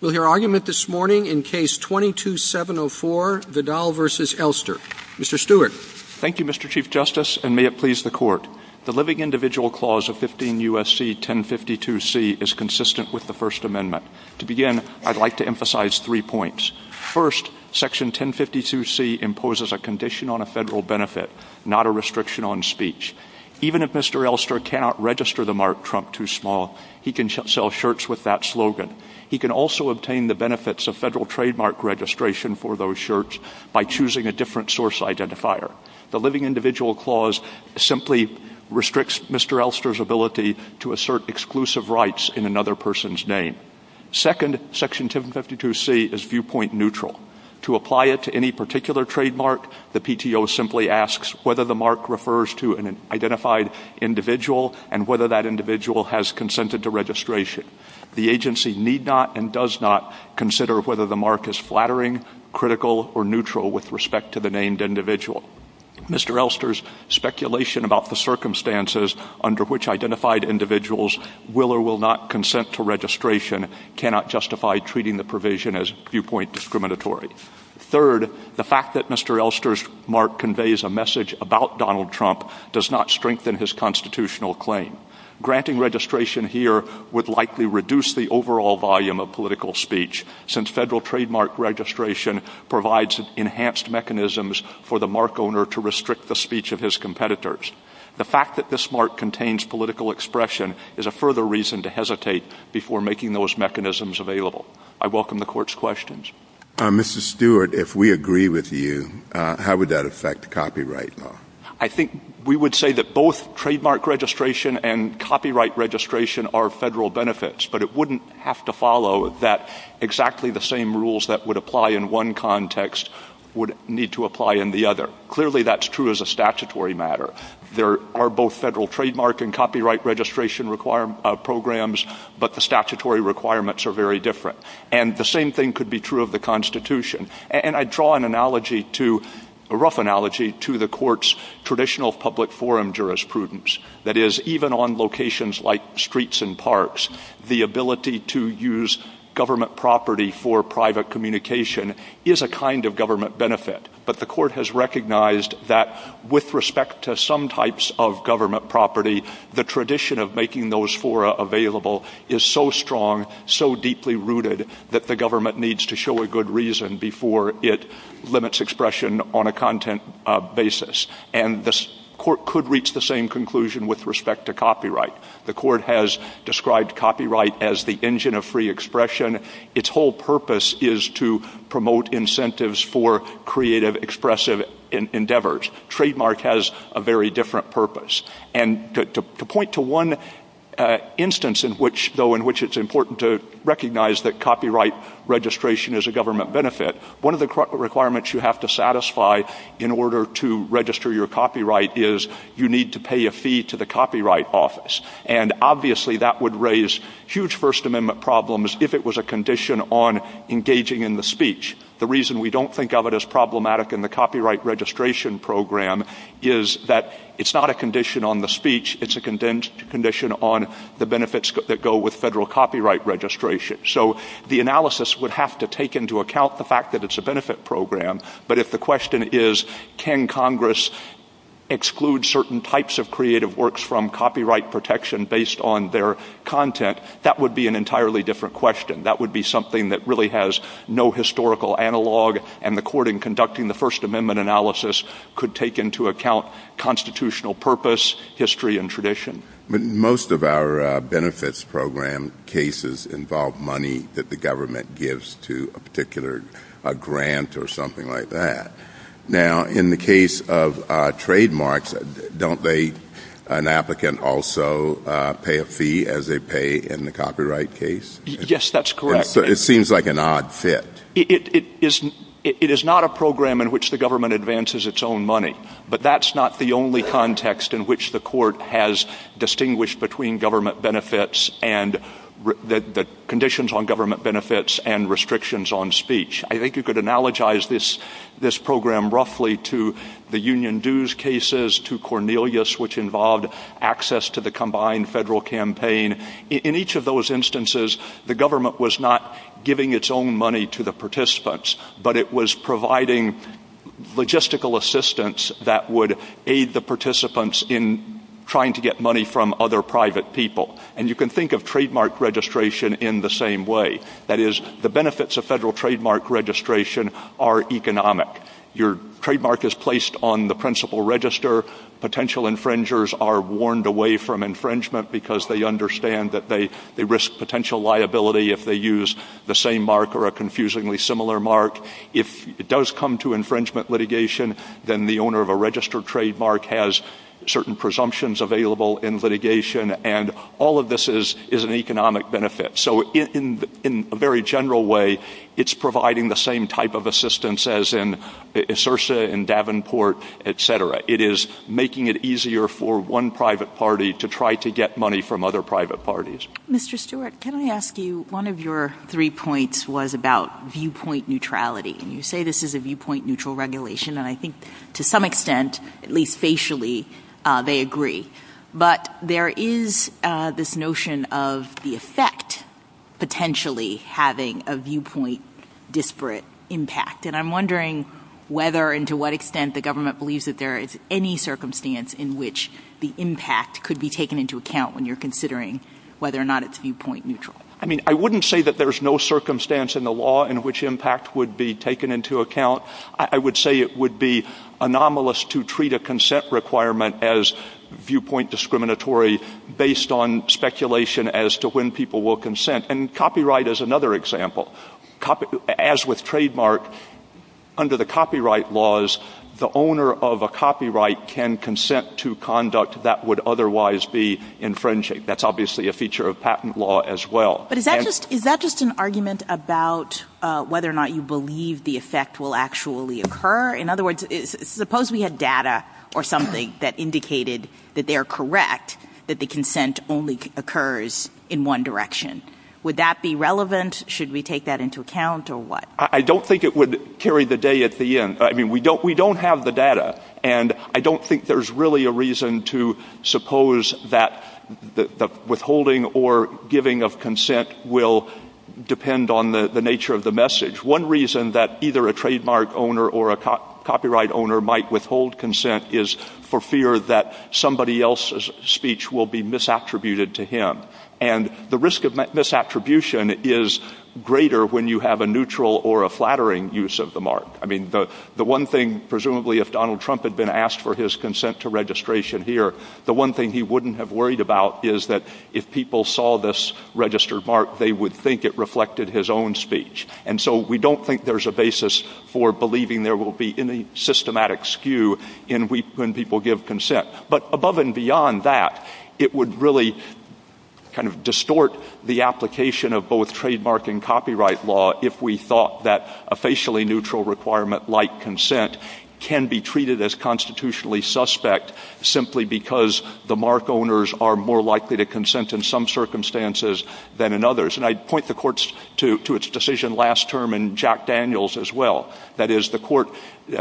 We'll hear argument this morning in Case 22-704, Vidal v. Elster. Mr. Stewart. Thank you, Mr. Chief Justice, and may it please the Court. The Living Individual Clause of 15 U.S.C. 1052c is consistent with the First Amendment. To begin, I'd like to emphasize three points. First, Section 1052c imposes a condition on a federal benefit, not a restriction on speech. Even if Mr. Elster cannot register the mark Trump too small, he can sell shirts with that slogan. He can also obtain the benefits of federal trademark registration for those shirts by choosing a different source identifier. The Living Individual Clause simply restricts Mr. Elster's ability to assert exclusive rights in another person's name. Second, Section 1052c is viewpoint neutral. To apply it to any particular trademark, the PTO simply asks whether the mark refers to an identified individual and whether that individual has consented to registration. The agency need not and does not consider whether the mark is flattering, critical, or neutral with respect to the named individual. Mr. Elster's speculation about the circumstances under which identified individuals will or will not consent to registration cannot justify treating the provision as viewpoint discriminatory. Third, the fact that Mr. Elster's mark conveys a message about Donald Trump does not strengthen his constitutional claim. Granting registration here would likely reduce the overall volume of political speech since federal trademark registration provides enhanced mechanisms for the mark owner to restrict the speech of his competitors. The fact that this mark contains political expression is a further reason to hesitate before making those mechanisms available. I welcome the Court's questions. Mr. Stewart, if we agree with you, how would that affect copyright law? I think we would say that both trademark registration and copyright registration are federal benefits, but it wouldn't have to follow that exactly the same rules that would apply in one context would need to apply in the other. Clearly, that's true as a statutory matter. There are both federal trademark and copyright registration programs, but the statutory requirements are very different. And the same thing could be true of the Constitution. And I draw a rough analogy to the Court's traditional public forum jurisprudence. That is, even on locations like streets and parks, the ability to use government property for private communication is a kind of government benefit. But the Court has recognized that with respect to some types of government property, the tradition of making those fora available is so strong, so deeply rooted, that the government needs to show a good reason before it limits expression on a content basis. And the Court could reach the same conclusion with respect to copyright. The Court has described copyright as the engine of free expression. Its whole purpose is to promote incentives for creative, expressive endeavors. Trademark has a very different purpose. And to point to one instance, though, in which it's important to recognize that copyright registration is a government benefit, one of the requirements you have to satisfy in order to register your copyright is you need to pay a fee to the Copyright Office. And obviously that would raise huge First Amendment problems if it was a condition on engaging in the speech. The reason we don't think of it as problematic in the copyright registration program is that it's not a condition on the speech, it's a condition on the benefits that go with federal copyright registration. So the analysis would have to take into account the fact that it's a benefit program. But if the question is, can Congress exclude certain types of creative works from copyright protection based on their content, that would be an entirely different question. That would be something that really has no historical analog, and the Court in conducting the First Amendment analysis could take into account constitutional purpose, history, and tradition. But most of our benefits program cases involve money that the government gives to a particular grant or something like that. Now, in the case of trademarks, don't they, an applicant, also pay a fee as they pay in the copyright case? Yes, that's correct. It seems like an odd fit. It is not a program in which the government advances its own money, but that's not the only context in which the Court has distinguished between government benefits and the conditions on government benefits and restrictions on speech. I think you could analogize this program roughly to the Union dues cases, to Cornelius, which involved access to the combined federal campaign. In each of those instances, the government was not giving its own money to the participants, but it was providing logistical assistance that would aid the participants in trying to get money from other private people. And you can think of trademark registration in the same way. That is, the benefits of federal trademark registration are economic. Your trademark is placed on the principal register. Potential infringers are warned away from infringement because they understand that they risk potential liability if they use the same mark or a confusingly similar mark. If it does come to infringement litigation, then the owner of a registered trademark has certain presumptions available in litigation, and all of this is an economic benefit. So in a very general way, it's providing the same type of assistance as in SIRSA, in Davenport, et cetera. It is making it easier for one private party to try to get money from other private parties. Mr. Stewart, can I ask you, one of your three points was about viewpoint neutrality, and you say this is a viewpoint neutral regulation, and I think to some extent, at least facially, they agree. But there is this notion of the effect potentially having a viewpoint disparate impact, and I'm wondering whether and to what extent the government believes that there is any circumstance in which the impact could be taken into account when you're considering whether or not it's viewpoint neutral. I mean, I wouldn't say that there's no circumstance in the law in which impact would be taken into account. I would say it would be anomalous to treat a consent requirement as viewpoint discriminatory based on speculation as to when people will consent, and copyright is another example. As with trademark, under the copyright laws, the owner of a copyright can consent to conduct that would otherwise be infringing. That's obviously a feature of patent law as well. But is that just an argument about whether or not you believe the effect will actually occur? In other words, suppose we had data or something that indicated that they're correct, that the consent only occurs in one direction. Would that be relevant? Should we take that into account or what? I don't think it would carry the day at the end. I mean, we don't have the data, and I don't think there's really a reason to suppose that the withholding or giving of consent will depend on the nature of the message. One reason that either a trademark owner or a copyright owner might withhold consent is for fear that somebody else's speech will be misattributed to him. And the risk of misattribution is greater when you have a neutral or a flattering use of the mark. I mean, the one thing, presumably, if Donald Trump had been asked for his consent to registration here, the one thing he wouldn't have worried about is that if people saw this registered mark, they would think it reflected his own speech. And so we don't think there's a basis for believing there will be any systematic skew when people give consent. But above and beyond that, it would really kind of distort the application of both trademark and copyright law if we thought that a facially neutral requirement like consent can be treated as constitutionally suspect simply because the mark owners are more likely to consent in some circumstances than in others. And I'd point the courts to its decision last term and Jack Daniels as well. That is, the court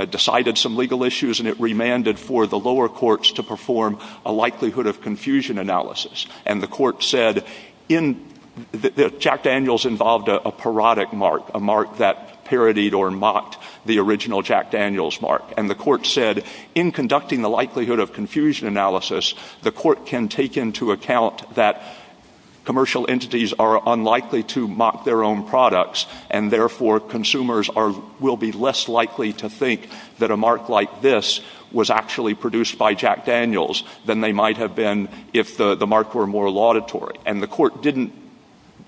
decided some legal issues and it remanded for the lower courts to perform a likelihood of confusion analysis. And the court said Jack Daniels involved a parodic mark, a mark that parodied or mocked the original Jack Daniels mark. And the court said in conducting the likelihood of confusion analysis, the court can take into account that commercial entities are unlikely to mock their own products and therefore consumers will be less likely to think that a mark like this was actually produced by Jack Daniels than they might have been if the mark were more laudatory. And the court didn't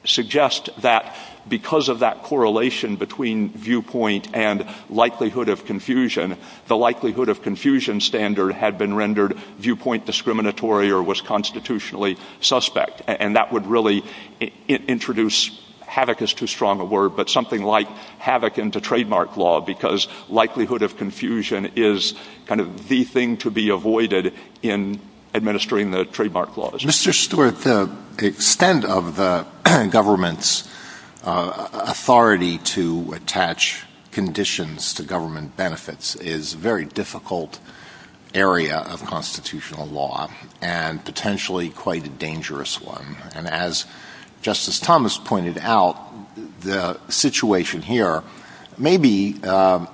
suggest that because of that correlation between viewpoint and likelihood of confusion, the likelihood of confusion standard had been rendered viewpoint discriminatory or was constitutionally suspect. And that would really introduce havoc is too strong a word, but something like havoc into trademark law because likelihood of confusion is kind of the thing to be avoided in administering the trademark laws. Mr. Stewart, the extent of the government's authority to attach conditions to government benefits is a very difficult area of constitutional law and potentially quite a dangerous one. And as Justice Thomas pointed out, the situation here, maybe our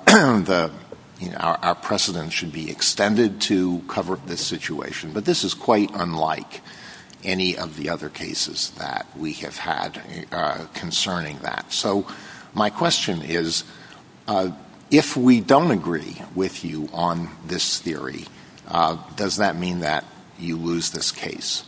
precedent should be extended to cover this situation, but this is quite unlike any of the other cases that we have had concerning that. So my question is, if we don't agree with you on this theory, does that mean that you lose this case?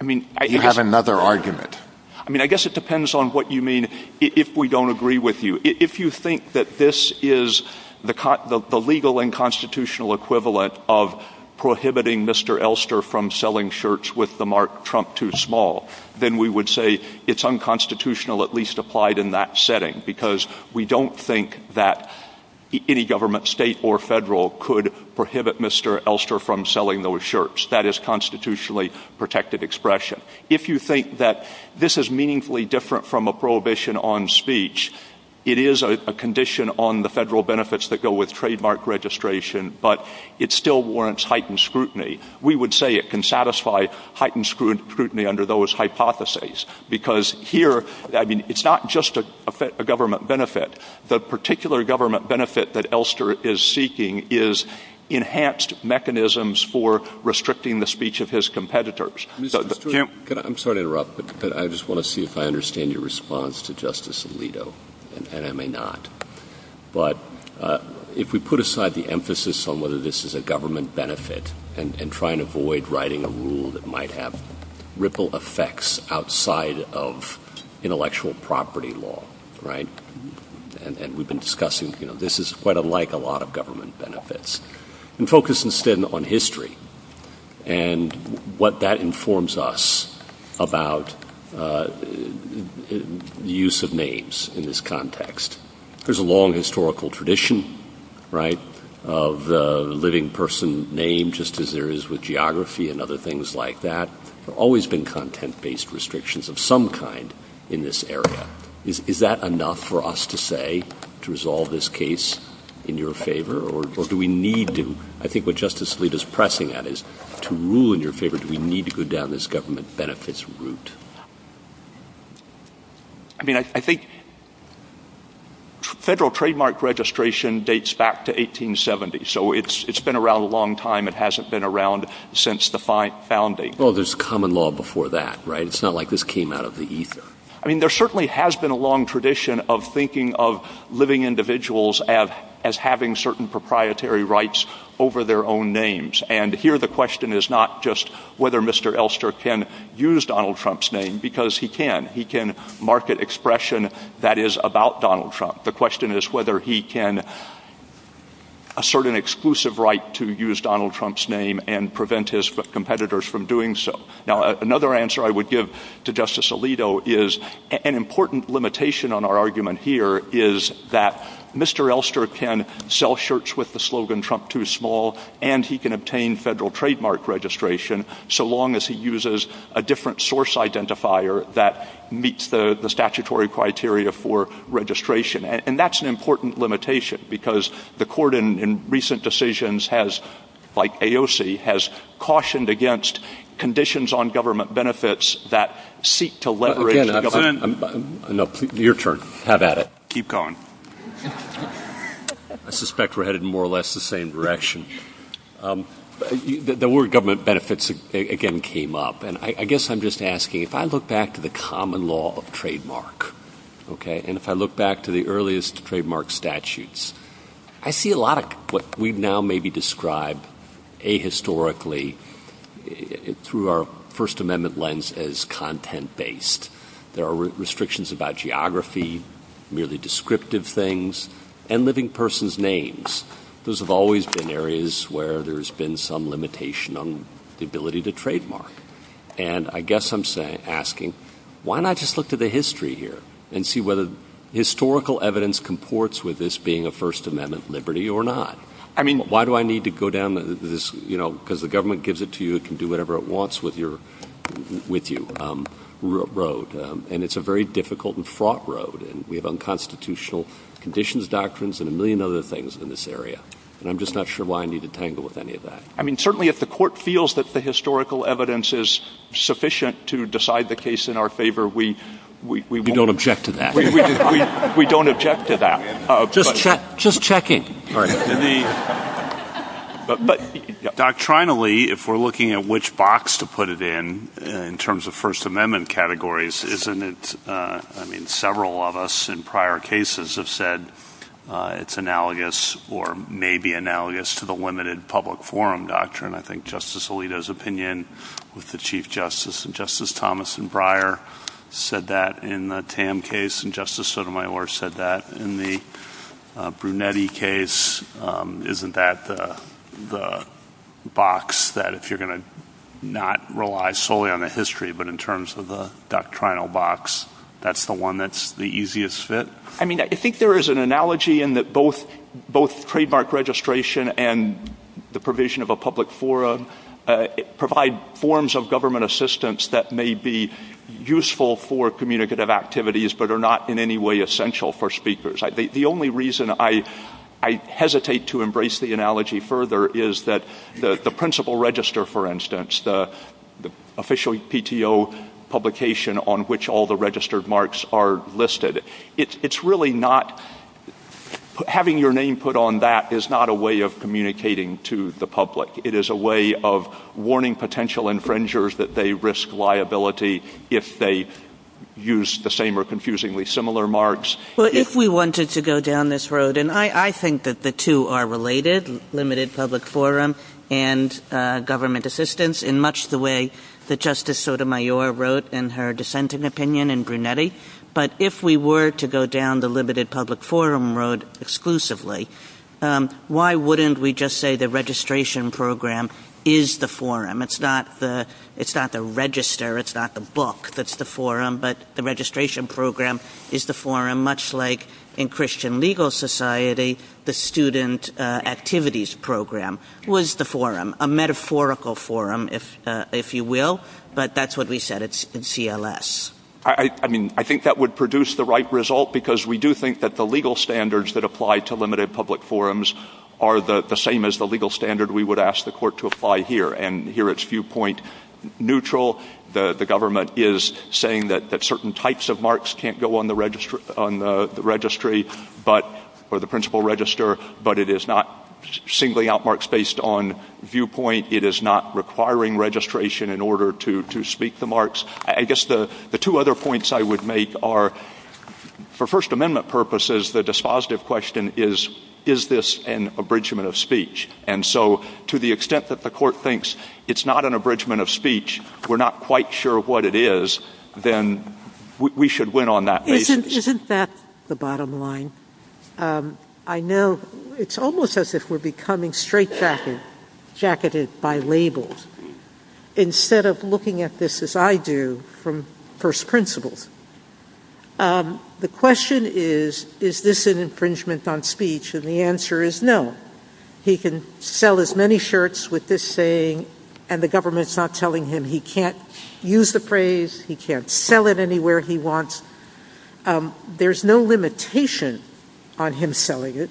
I mean, you have another argument. I mean, I guess it depends on what you mean if we don't agree with you. If you think that this is the legal and constitutional equivalent of prohibiting Mr. Elster from selling shirts with the mark Trump too small, then we would say it's unconstitutional at least applied in that setting because we don't think that any government, state or federal, could prohibit Mr. Elster from selling those shirts. That is constitutionally protected expression. If you think that this is meaningfully different from a prohibition on speech, it is a condition on the federal benefits that go with trademark registration, but it still warrants heightened scrutiny. We would say it can satisfy heightened scrutiny under those hypotheses because here, I mean, it's not just a government benefit. The particular government benefit that Elster is seeking is enhanced mechanisms for restricting the speech of his competitors. I'm sorry to interrupt, but I just want to see if I understand your response to Justice Alito, and I may not. But if we put aside the emphasis on whether this is a government benefit and try and avoid writing a rule that might have ripple effects outside of intellectual property law, right? And we've been discussing, you know, this is quite unlike a lot of government benefits. And focus instead on history and what that informs us about the use of names in this context. There's a long historical tradition, right, of the living person name just as there is with geography and other things like that. There have always been content-based restrictions of some kind in this area. Is that enough for us to say to resolve this case in your favor, or do we need to? I think what Justice Alito is pressing at is to rule in your favor, do we need to go down this government benefits route? I mean, I think federal trademark registration dates back to 1870, so it's been around a long time. It hasn't been around since the founding. Well, there's common law before that, right? It's not like this came out of the ether. I mean, there certainly has been a long tradition of thinking of living individuals as having certain proprietary rights over their own names. And here the question is not just whether Mr. Elster can use Donald Trump's name, because he can. He can market expression that is about Donald Trump. The question is whether he can assert an exclusive right to use Donald Trump's name and prevent his competitors from doing so. Now, another answer I would give to Justice Alito is an important limitation on our argument here is that Mr. Elster can sell shirts with the slogan Trump Too Small, and he can obtain federal trademark registration so long as he uses a different source identifier that meets the statutory criteria for registration. And that's an important limitation, because the court in recent decisions has, like AOC, has cautioned against conditions on government benefits that seek to leverage the government. No, your turn. Have at it. Keep going. I suspect we're headed in more or less the same direction. The word government benefits again came up, and I guess I'm just asking, if I look back to the common law of trademark, and if I look back to the earliest trademark statutes, I see a lot of what we've now maybe described ahistorically through our First Amendment lens as content-based. There are restrictions about geography, merely descriptive things, and living persons' names. Those have always been areas where there's been some limitation on the ability to trademark. And I guess I'm asking, why not just look to the history here and see whether historical evidence comports with this being a First Amendment liberty or not? Why do I need to go down this – because the government gives it to you, it can do whatever it wants with you – road. And it's a very difficult and fraught road, and we have unconstitutional conditions, doctrines, and a million other things in this area. And I'm just not sure why I need to tangle with any of that. I mean, certainly if the court feels that the historical evidence is sufficient to decide the case in our favor, we – We don't object to that. We don't object to that. Just checking. But doctrinally, if we're looking at which box to put it in, in terms of First Amendment categories, isn't it – I mean, several of us in prior cases have said it's analogous or maybe analogous to the limited public forum doctrine. I think Justice Alito's opinion with the Chief Justice and Justice Thomas and Breyer said that in the Tam case, and Justice Sotomayor said that in the Brunetti case. Isn't that the box that if you're going to not rely solely on the history, but in terms of the doctrinal box, that's the one that's the easiest fit? I mean, I think there is an analogy in that both trademark registration and the provision of a public forum provide forms of government assistance that may be useful for communicative activities but are not in any way essential for speakers. The only reason I hesitate to embrace the analogy further is that the principal register, for instance, the official PTO publication on which all the registered marks are listed, it's really not – having your name put on that is not a way of communicating to the public. It is a way of warning potential infringers that they risk liability if they use the same or confusingly similar marks. Well, if we wanted to go down this road, and I think that the two are related, limited public forum and government assistance, in much the way that Justice Sotomayor wrote in her dissenting opinion in Brunetti, but if we were to go down the limited public forum road exclusively, why wouldn't we just say the registration program is the forum? It's not the register, it's not the book that's the forum, but the registration program is the forum, much like in Christian legal society the student activities program was the forum, a metaphorical forum, if you will, but that's what we said. It's in CLS. I mean, I think that would produce the right result because we do think that the legal standards that apply to limited public forums are the same as the legal standard we would ask the court to apply here, and here it's viewpoint neutral. The government is saying that certain types of marks can't go on the registry or the principal register, but it is not singly out marks based on viewpoint. It is not requiring registration in order to speak the marks. I guess the two other points I would make are, for First Amendment purposes, the dispositive question is, is this an abridgment of speech? And so to the extent that the court thinks it's not an abridgment of speech, we're not quite sure what it is, then we should win on that basis. Isn't that the bottom line? I know it's almost as if we're becoming straitjacketed by labels. Instead of looking at this as I do from first principle, the question is, is this an infringement on speech? And the answer is no. He can sell as many shirts with this saying, and the government's not telling him he can't use the phrase, he can't sell it anywhere he wants. There's no limitation on him selling it,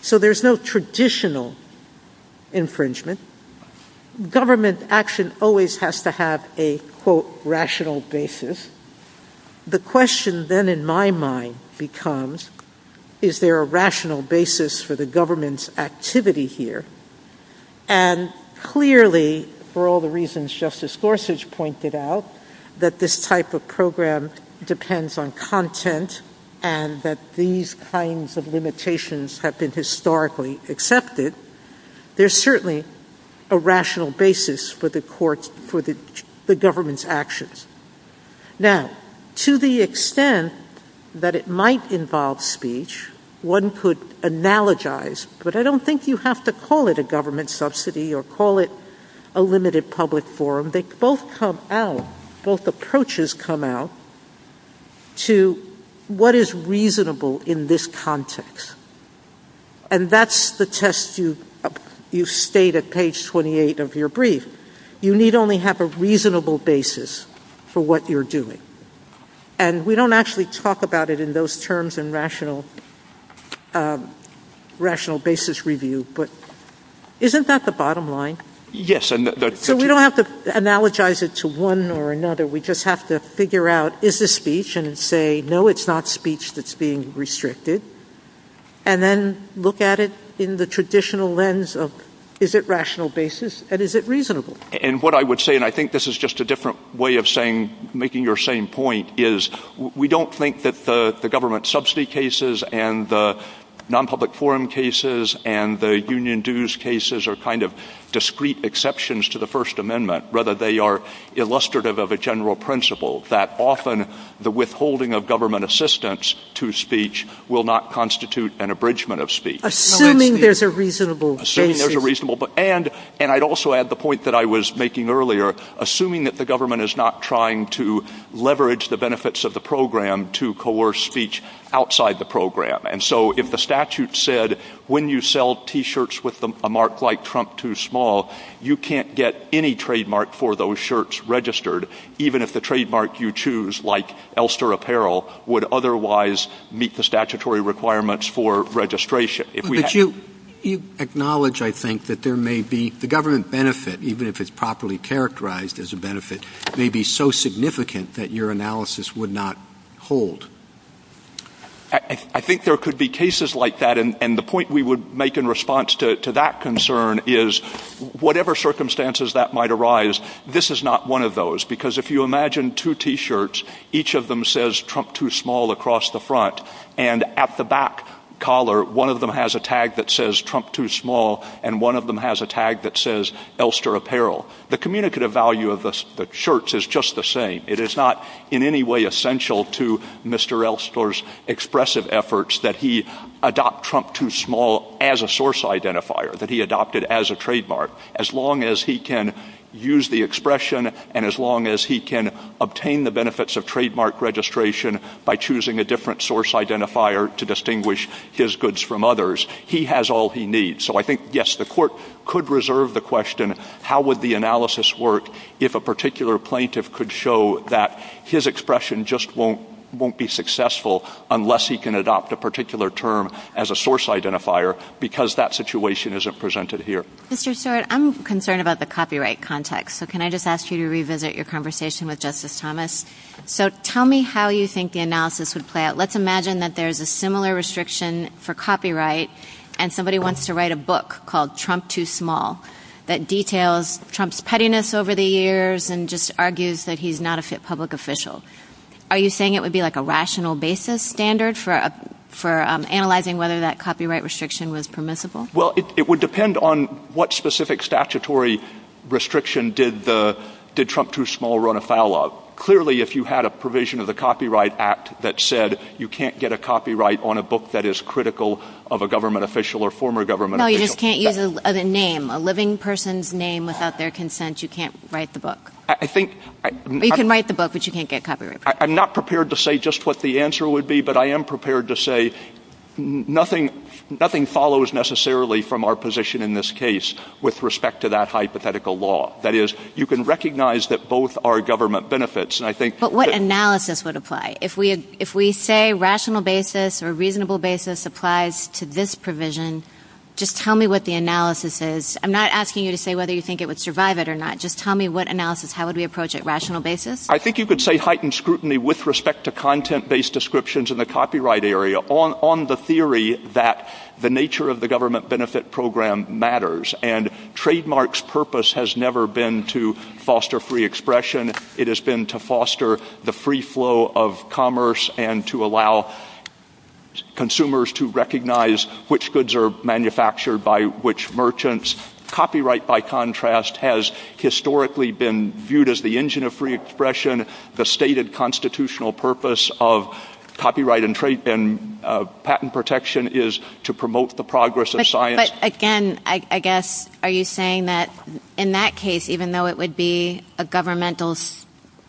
so there's no traditional infringement. Government action always has to have a, quote, rational basis. The question then in my mind becomes, is there a rational basis for the government's activity here? And clearly, for all the reasons Justice Gorsuch pointed out, that this type of program depends on content, and that these kinds of limitations have been historically accepted, there's certainly a rational basis for the government's actions. Now, to the extent that it might involve speech, one could analogize, but I don't think you have to call it a government subsidy or call it a limited public forum. Both approaches come out to what is reasonable in this context. And that's the test you state at page 28 of your brief. You need only have a reasonable basis for what you're doing. And we don't actually talk about it in those terms in rational basis review, but isn't that the bottom line? Yes. So we don't have to analogize it to one or another. We just have to figure out, is this speech? And say, no, it's not speech that's being restricted. And then look at it in the traditional lens of, is it rational basis and is it reasonable? And what I would say, and I think this is just a different way of making your same point, is we don't think that the government subsidy cases and the nonpublic forum cases and the union dues cases are kind of discrete exceptions to the First Amendment. Rather, they are illustrative of a general principle that often the withholding of government assistance to speech will not constitute an abridgment of speech. Assuming there's a reasonable basis. Assuming there's a reasonable basis. And I'd also add the point that I was making earlier, assuming that the government is not trying to leverage the benefits of the program to coerce speech outside the program. And so if the statute said, when you sell T-shirts with a mark like Trump too small, you can't get any trademark for those shirts registered, even if the trademark you choose, like Elster Apparel, would otherwise meet the statutory requirements for registration. But you acknowledge, I think, that there may be, the government benefit, even if it's properly characterized as a benefit, may be so significant that your analysis would not hold. I think there could be cases like that. And the point we would make in response to that concern is, whatever circumstances that might arise, this is not one of those. Because if you imagine two T-shirts, each of them says Trump too small across the front, and at the back collar, one of them has a tag that says Trump too small, and one of them has a tag that says Elster Apparel. The communicative value of the shirts is just the same. It is not in any way essential to Mr. Elster's expressive efforts that he adopt Trump too small as a source identifier, that he adopted as a trademark. As long as he can use the expression, and as long as he can obtain the benefits of trademark registration by choosing a different source identifier to distinguish his goods from others, he has all he needs. So I think, yes, the court could reserve the question, how would the analysis work if a particular plaintiff could show that his expression just won't be successful unless he can adopt a particular term as a source identifier, because that situation isn't presented here. Mr. Stewart, I'm concerned about the copyright context. So can I just ask you to revisit your conversation with Justice Thomas? So tell me how you think the analysis would play out. Let's imagine that there's a similar restriction for copyright, and somebody wants to write a book called Trump Too Small that details Trump's pettiness over the years and just argues that he's not a fit public official. Are you saying it would be like a rational basis standard for analyzing whether that copyright restriction was permissible? Well, it would depend on what specific statutory restriction did Trump Too Small run afoul of. Clearly, if you had a provision of the Copyright Act that said you can't get a copyright on a book that is critical of a government official or former government official. No, you just can't use a name, a living person's name without their consent. You can't write the book. You can write the book, but you can't get copyright. I'm not prepared to say just what the answer would be, but I am prepared to say nothing follows necessarily from our position in this case with respect to that hypothetical law. That is, you can recognize that both are government benefits. But what analysis would apply? If we say rational basis or reasonable basis applies to this provision, just tell me what the analysis is. I'm not asking you to say whether you think it would survive it or not. Just tell me what analysis. How would we approach it? Rational basis? I think you could say heightened scrutiny with respect to content-based descriptions in the copyright area on the theory that the nature of the government benefit program matters. And Trademark's purpose has never been to foster free expression. It has been to foster the free flow of commerce and to allow consumers to recognize which goods are manufactured by which merchants. Copyright, by contrast, has historically been viewed as the engine of free expression. The stated constitutional purpose of copyright and patent protection is to promote the progress of science. But, again, I guess are you saying that in that case, even though it would be a governmental,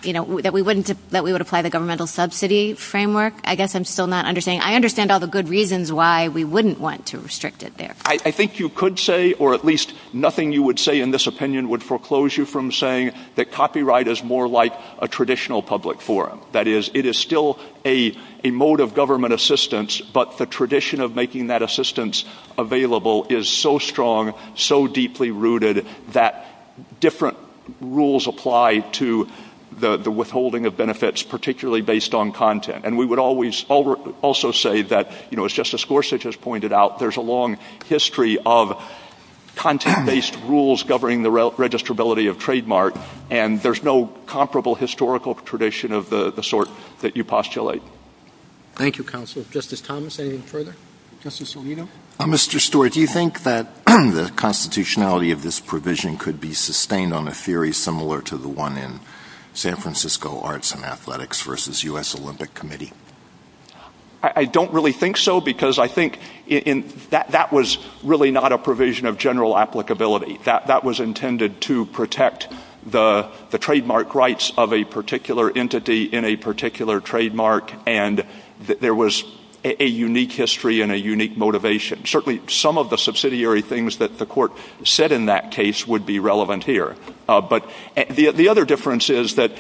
you know, that we would apply the governmental subsidy framework? I guess I'm still not understanding. I understand all the good reasons why we wouldn't want to restrict it there. I think you could say, or at least nothing you would say in this opinion would foreclose you from saying that copyright is more like a traditional public forum. That is, it is still a mode of government assistance, but the tradition of making that assistance available is so strong, so deeply rooted that different rules apply to the withholding of benefits, particularly based on content. And we would also say that, you know, as Justice Gorsuch has pointed out, there's a long history of content-based rules governing the registrability of Trademark, and there's no comparable historical tradition of the sort that you postulate. Thank you, Counselor. Justice Thomas, anything further? Justice Alito? Mr. Stewart, do you think that the constitutionality of this provision could be sustained on a theory similar to the one in San Francisco Arts and Athletics versus U.S. Olympic Committee? I don't really think so, because I think that was really not a provision of general applicability. That was intended to protect the trademark rights of a particular entity in a particular trademark, and there was a unique history and a unique motivation. Certainly some of the subsidiary things that the court said in that case would be relevant here. But the other difference is that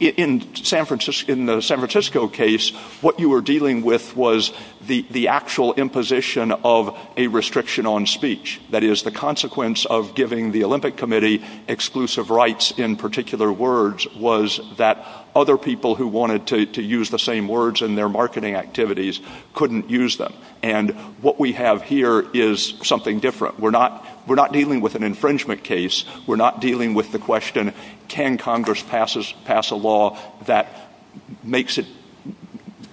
in the San Francisco case, what you were dealing with was the actual imposition of a restriction on speech. That is, the consequence of giving the Olympic Committee exclusive rights in particular words was that other people who wanted to use the same words in their marketing activities couldn't use them. And what we have here is something different. We're not dealing with an infringement case. We're not dealing with the question, can Congress pass a law that makes it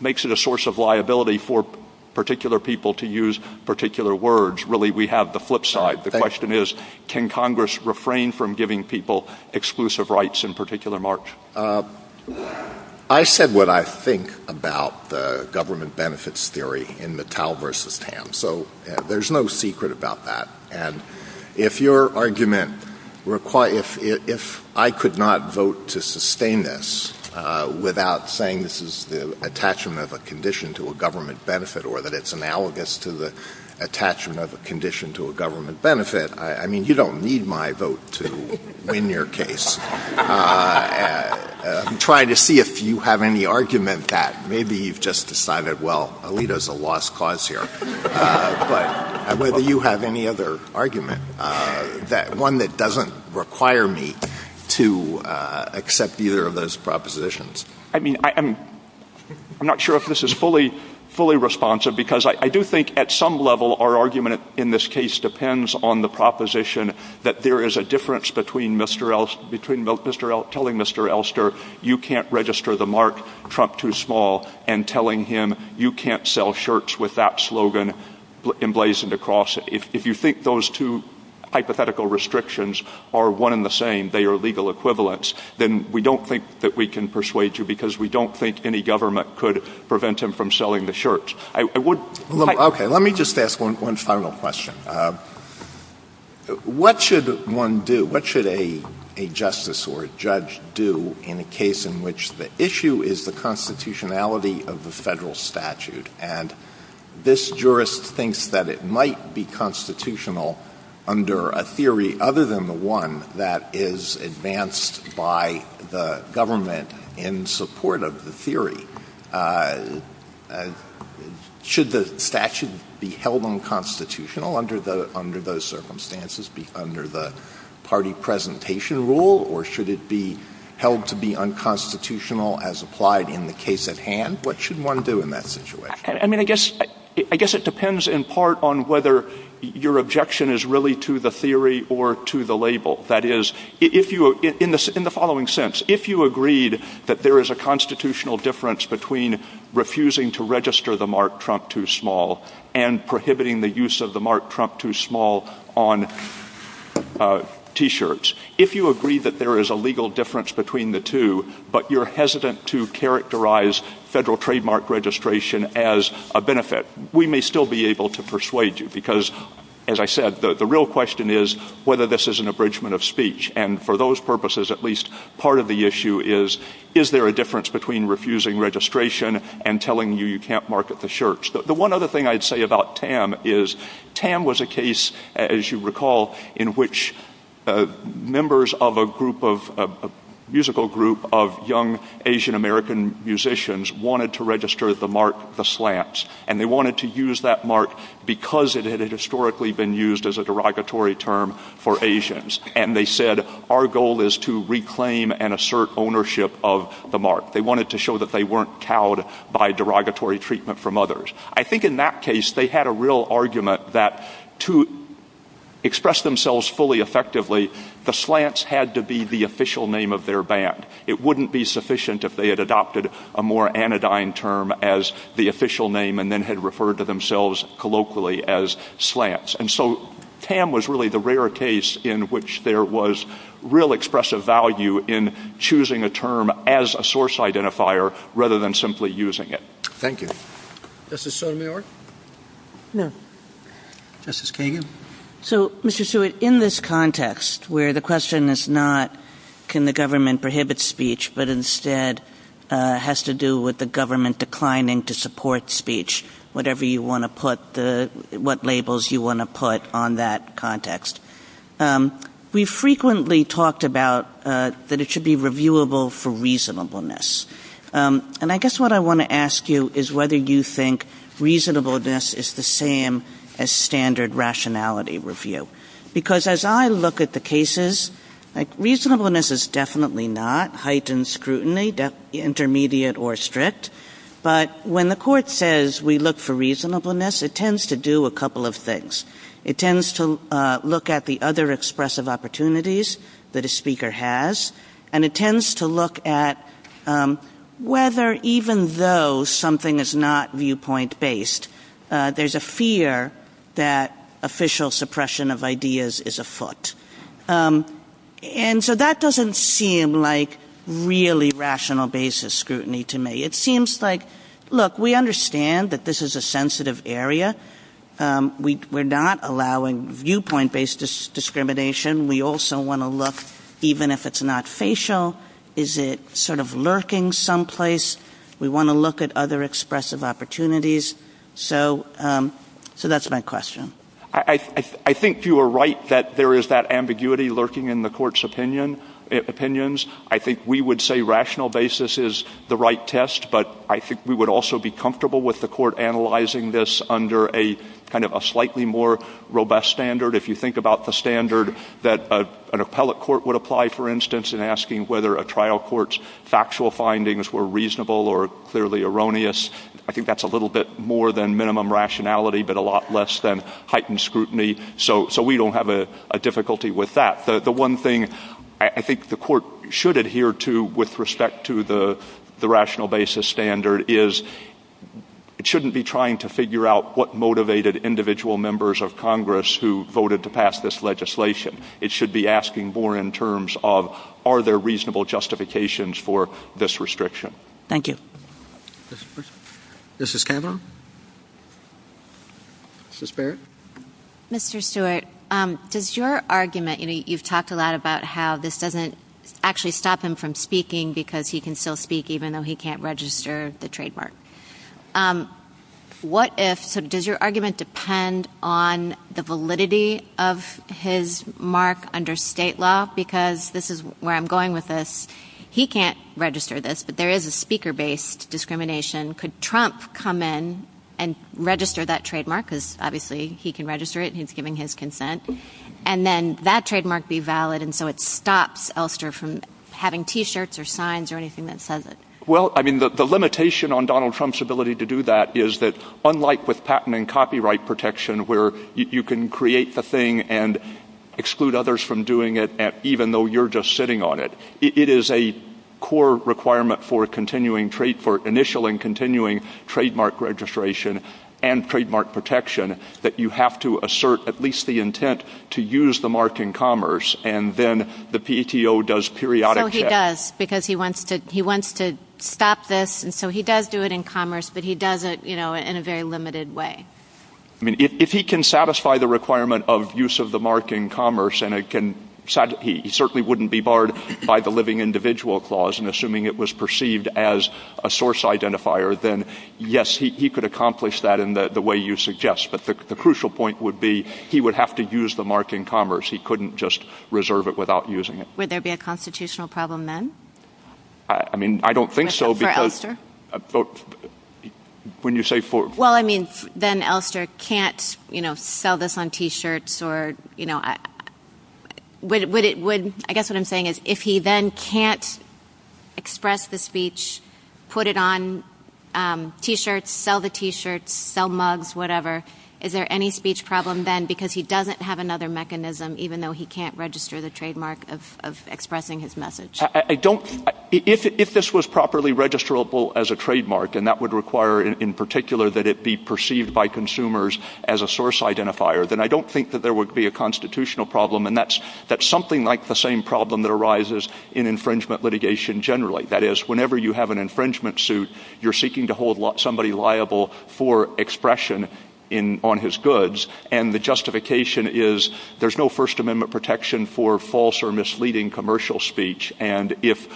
a source of liability for particular people to use particular words? Really, we have the flip side. The question is, can Congress refrain from giving people exclusive rights in particular marks? I said what I think about the government benefits theory in the Tal versus Tam, so there's no secret about that. And if your argument requires – if I could not vote to sustain this without saying this is the attachment of a condition to a government benefit or that it's analogous to the attachment of a condition to a government benefit, I mean, you don't need my vote to win your case. I'm trying to see if you have any argument that maybe you've just decided, well, Alito's a lost cause here. But whether you have any other argument, one that doesn't require me to accept either of those propositions. I mean, I'm not sure if this is fully responsive, because I do think at some level our argument in this case depends on the proposition that there is a difference between telling Mr. Elster you can't register the mark Trump too small and telling him you can't sell shirts with that slogan emblazoned across it. If you think those two hypothetical restrictions are one and the same, they are legal equivalents, then we don't think that we can persuade you because we don't think any government could prevent him from selling the shirts. I would – Okay, let me just ask one final question. What should one do? What should a justice or a judge do in a case in which the issue is the constitutionality of the federal statute and this jurist thinks that it might be constitutional under a theory other than the one that is advanced by the government in support of the theory? Should the statute be held unconstitutional under those circumstances, under the party presentation rule, or should it be held to be unconstitutional as applied in the case at hand? What should one do in that situation? I guess it depends in part on whether your objection is really to the theory or to the label. That is, in the following sense, if you agreed that there is a constitutional difference between refusing to register the mark Trump too small and prohibiting the use of the mark Trump too small on T-shirts, if you agree that there is a legal difference between the two but you're hesitant to characterize federal trademark registration as a benefit, we may still be able to persuade you because, as I said, the real question is whether this is an abridgment of speech. And for those purposes, at least part of the issue is, is there a difference between refusing registration and telling you you can't market the shirts? The one other thing I'd say about Tam is Tam was a case, as you recall, in which members of a musical group of young Asian-American musicians wanted to register the mark The Slants. And they wanted to use that mark because it had historically been used as a derogatory term for Asians. And they said, our goal is to reclaim and assert ownership of the mark. They wanted to show that they weren't cowed by derogatory treatment from others. I think in that case, they had a real argument that to express themselves fully effectively, The Slants had to be the official name of their band. It wouldn't be sufficient if they had adopted a more anodyne term as the official name and then had referred to themselves colloquially as Slants. And so Tam was really the rare case in which there was real expressive value in choosing a term as a source identifier rather than simply using it. Thank you. Justice Sotomayor? No. Justice Kagan? So, Mr. Stewart, in this context where the question is not can the government prohibit speech but instead has to do with the government declining to support speech, whatever you want to put, what labels you want to put on that context, we frequently talked about that it should be reviewable for reasonableness. And I guess what I want to ask you is whether you think reasonableness is the same as standard rationality review. Because as I look at the cases, reasonableness is definitely not heightened scrutiny, intermediate or strict, but when the court says we look for reasonableness, it tends to do a couple of things. It tends to look at the other expressive opportunities that a speaker has, and it tends to look at whether even though something is not viewpoint-based, there's a fear that official suppression of ideas is afoot. And so that doesn't seem like really rational basis scrutiny to me. It seems like, look, we understand that this is a sensitive area. We're not allowing viewpoint-based discrimination. We also want to look, even if it's not facial, is it sort of lurking someplace? We want to look at other expressive opportunities. So that's my question. I think you are right that there is that ambiguity lurking in the court's opinions. I think we would say rational basis is the right test, but I think we would also be comfortable with the court analyzing this under kind of a slightly more robust standard. If you think about the standard that an appellate court would apply, for instance, in asking whether a trial court's factual findings were reasonable or clearly erroneous, I think that's a little bit more than minimum rationality, but a lot less than heightened scrutiny, so we don't have a difficulty with that. The one thing I think the court should adhere to with respect to the rational basis standard is it shouldn't be trying to figure out what motivated individual members of Congress who voted to pass this legislation. It should be asking more in terms of are there reasonable justifications for this restriction. Thank you. Mrs. Campbell? Mrs. Barrett? Mr. Stewart, does your argument, and you've talked a lot about how this doesn't actually stop him from speaking because he can still speak even though he can't register the trademark. What if, does your argument depend on the validity of his mark under state law because this is where I'm going with this. He can't register this, but there is a speaker-based discrimination. Could Trump come in and register that trademark because obviously he can register it and he's giving his consent, and then that trademark be valid, and so it stops Elster from having T-shirts or signs or anything that says it? Well, I mean the limitation on Donald Trump's ability to do that is that unlike with patent and copyright protection where you can create the thing and exclude others from doing it even though you're just sitting on it, it is a core requirement for initial and continuing trademark registration and trademark protection that you have to assert at least the intent to use the mark in commerce, and then the PTO does periodic checks. Yes, because he wants to stop this, and so he does do it in commerce, but he does it in a very limited way. If he can satisfy the requirement of use of the mark in commerce, and he certainly wouldn't be barred by the living individual clause in assuming it was perceived as a source identifier, then yes, he could accomplish that in the way you suggest, but the crucial point would be he would have to use the mark in commerce. He couldn't just reserve it without using it. Would there be a constitutional problem then? I mean, I don't think so. For Elster? Well, I mean, then Elster can't sell this on T-shirts or, you know, I guess what I'm saying is if he then can't express the speech, put it on T-shirts, sell the T-shirts, sell mugs, whatever, is there any speech problem then because he doesn't have another mechanism even though he can't register the trademark of expressing his message? If this was properly registrable as a trademark, and that would require in particular that it be perceived by consumers as a source identifier, then I don't think that there would be a constitutional problem, and that's something like the same problem that arises in infringement litigation generally. That is, whenever you have an infringement suit, you're seeking to hold somebody liable for expression on his goods, and the justification is there's no First Amendment protection for false or misleading commercial speech, and if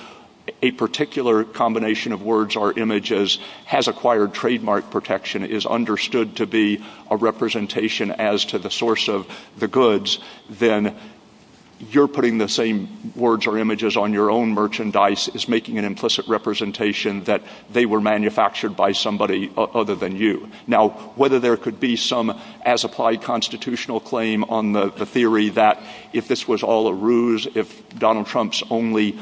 a particular combination of words or images has acquired trademark protection, is understood to be a representation as to the source of the goods, then you're putting the same words or images on your own merchandise as making an implicit representation that they were manufactured by somebody other than you. Now, whether there could be some as-applied constitutional claim on the theory that if this was all a ruse, if Donald Trump's only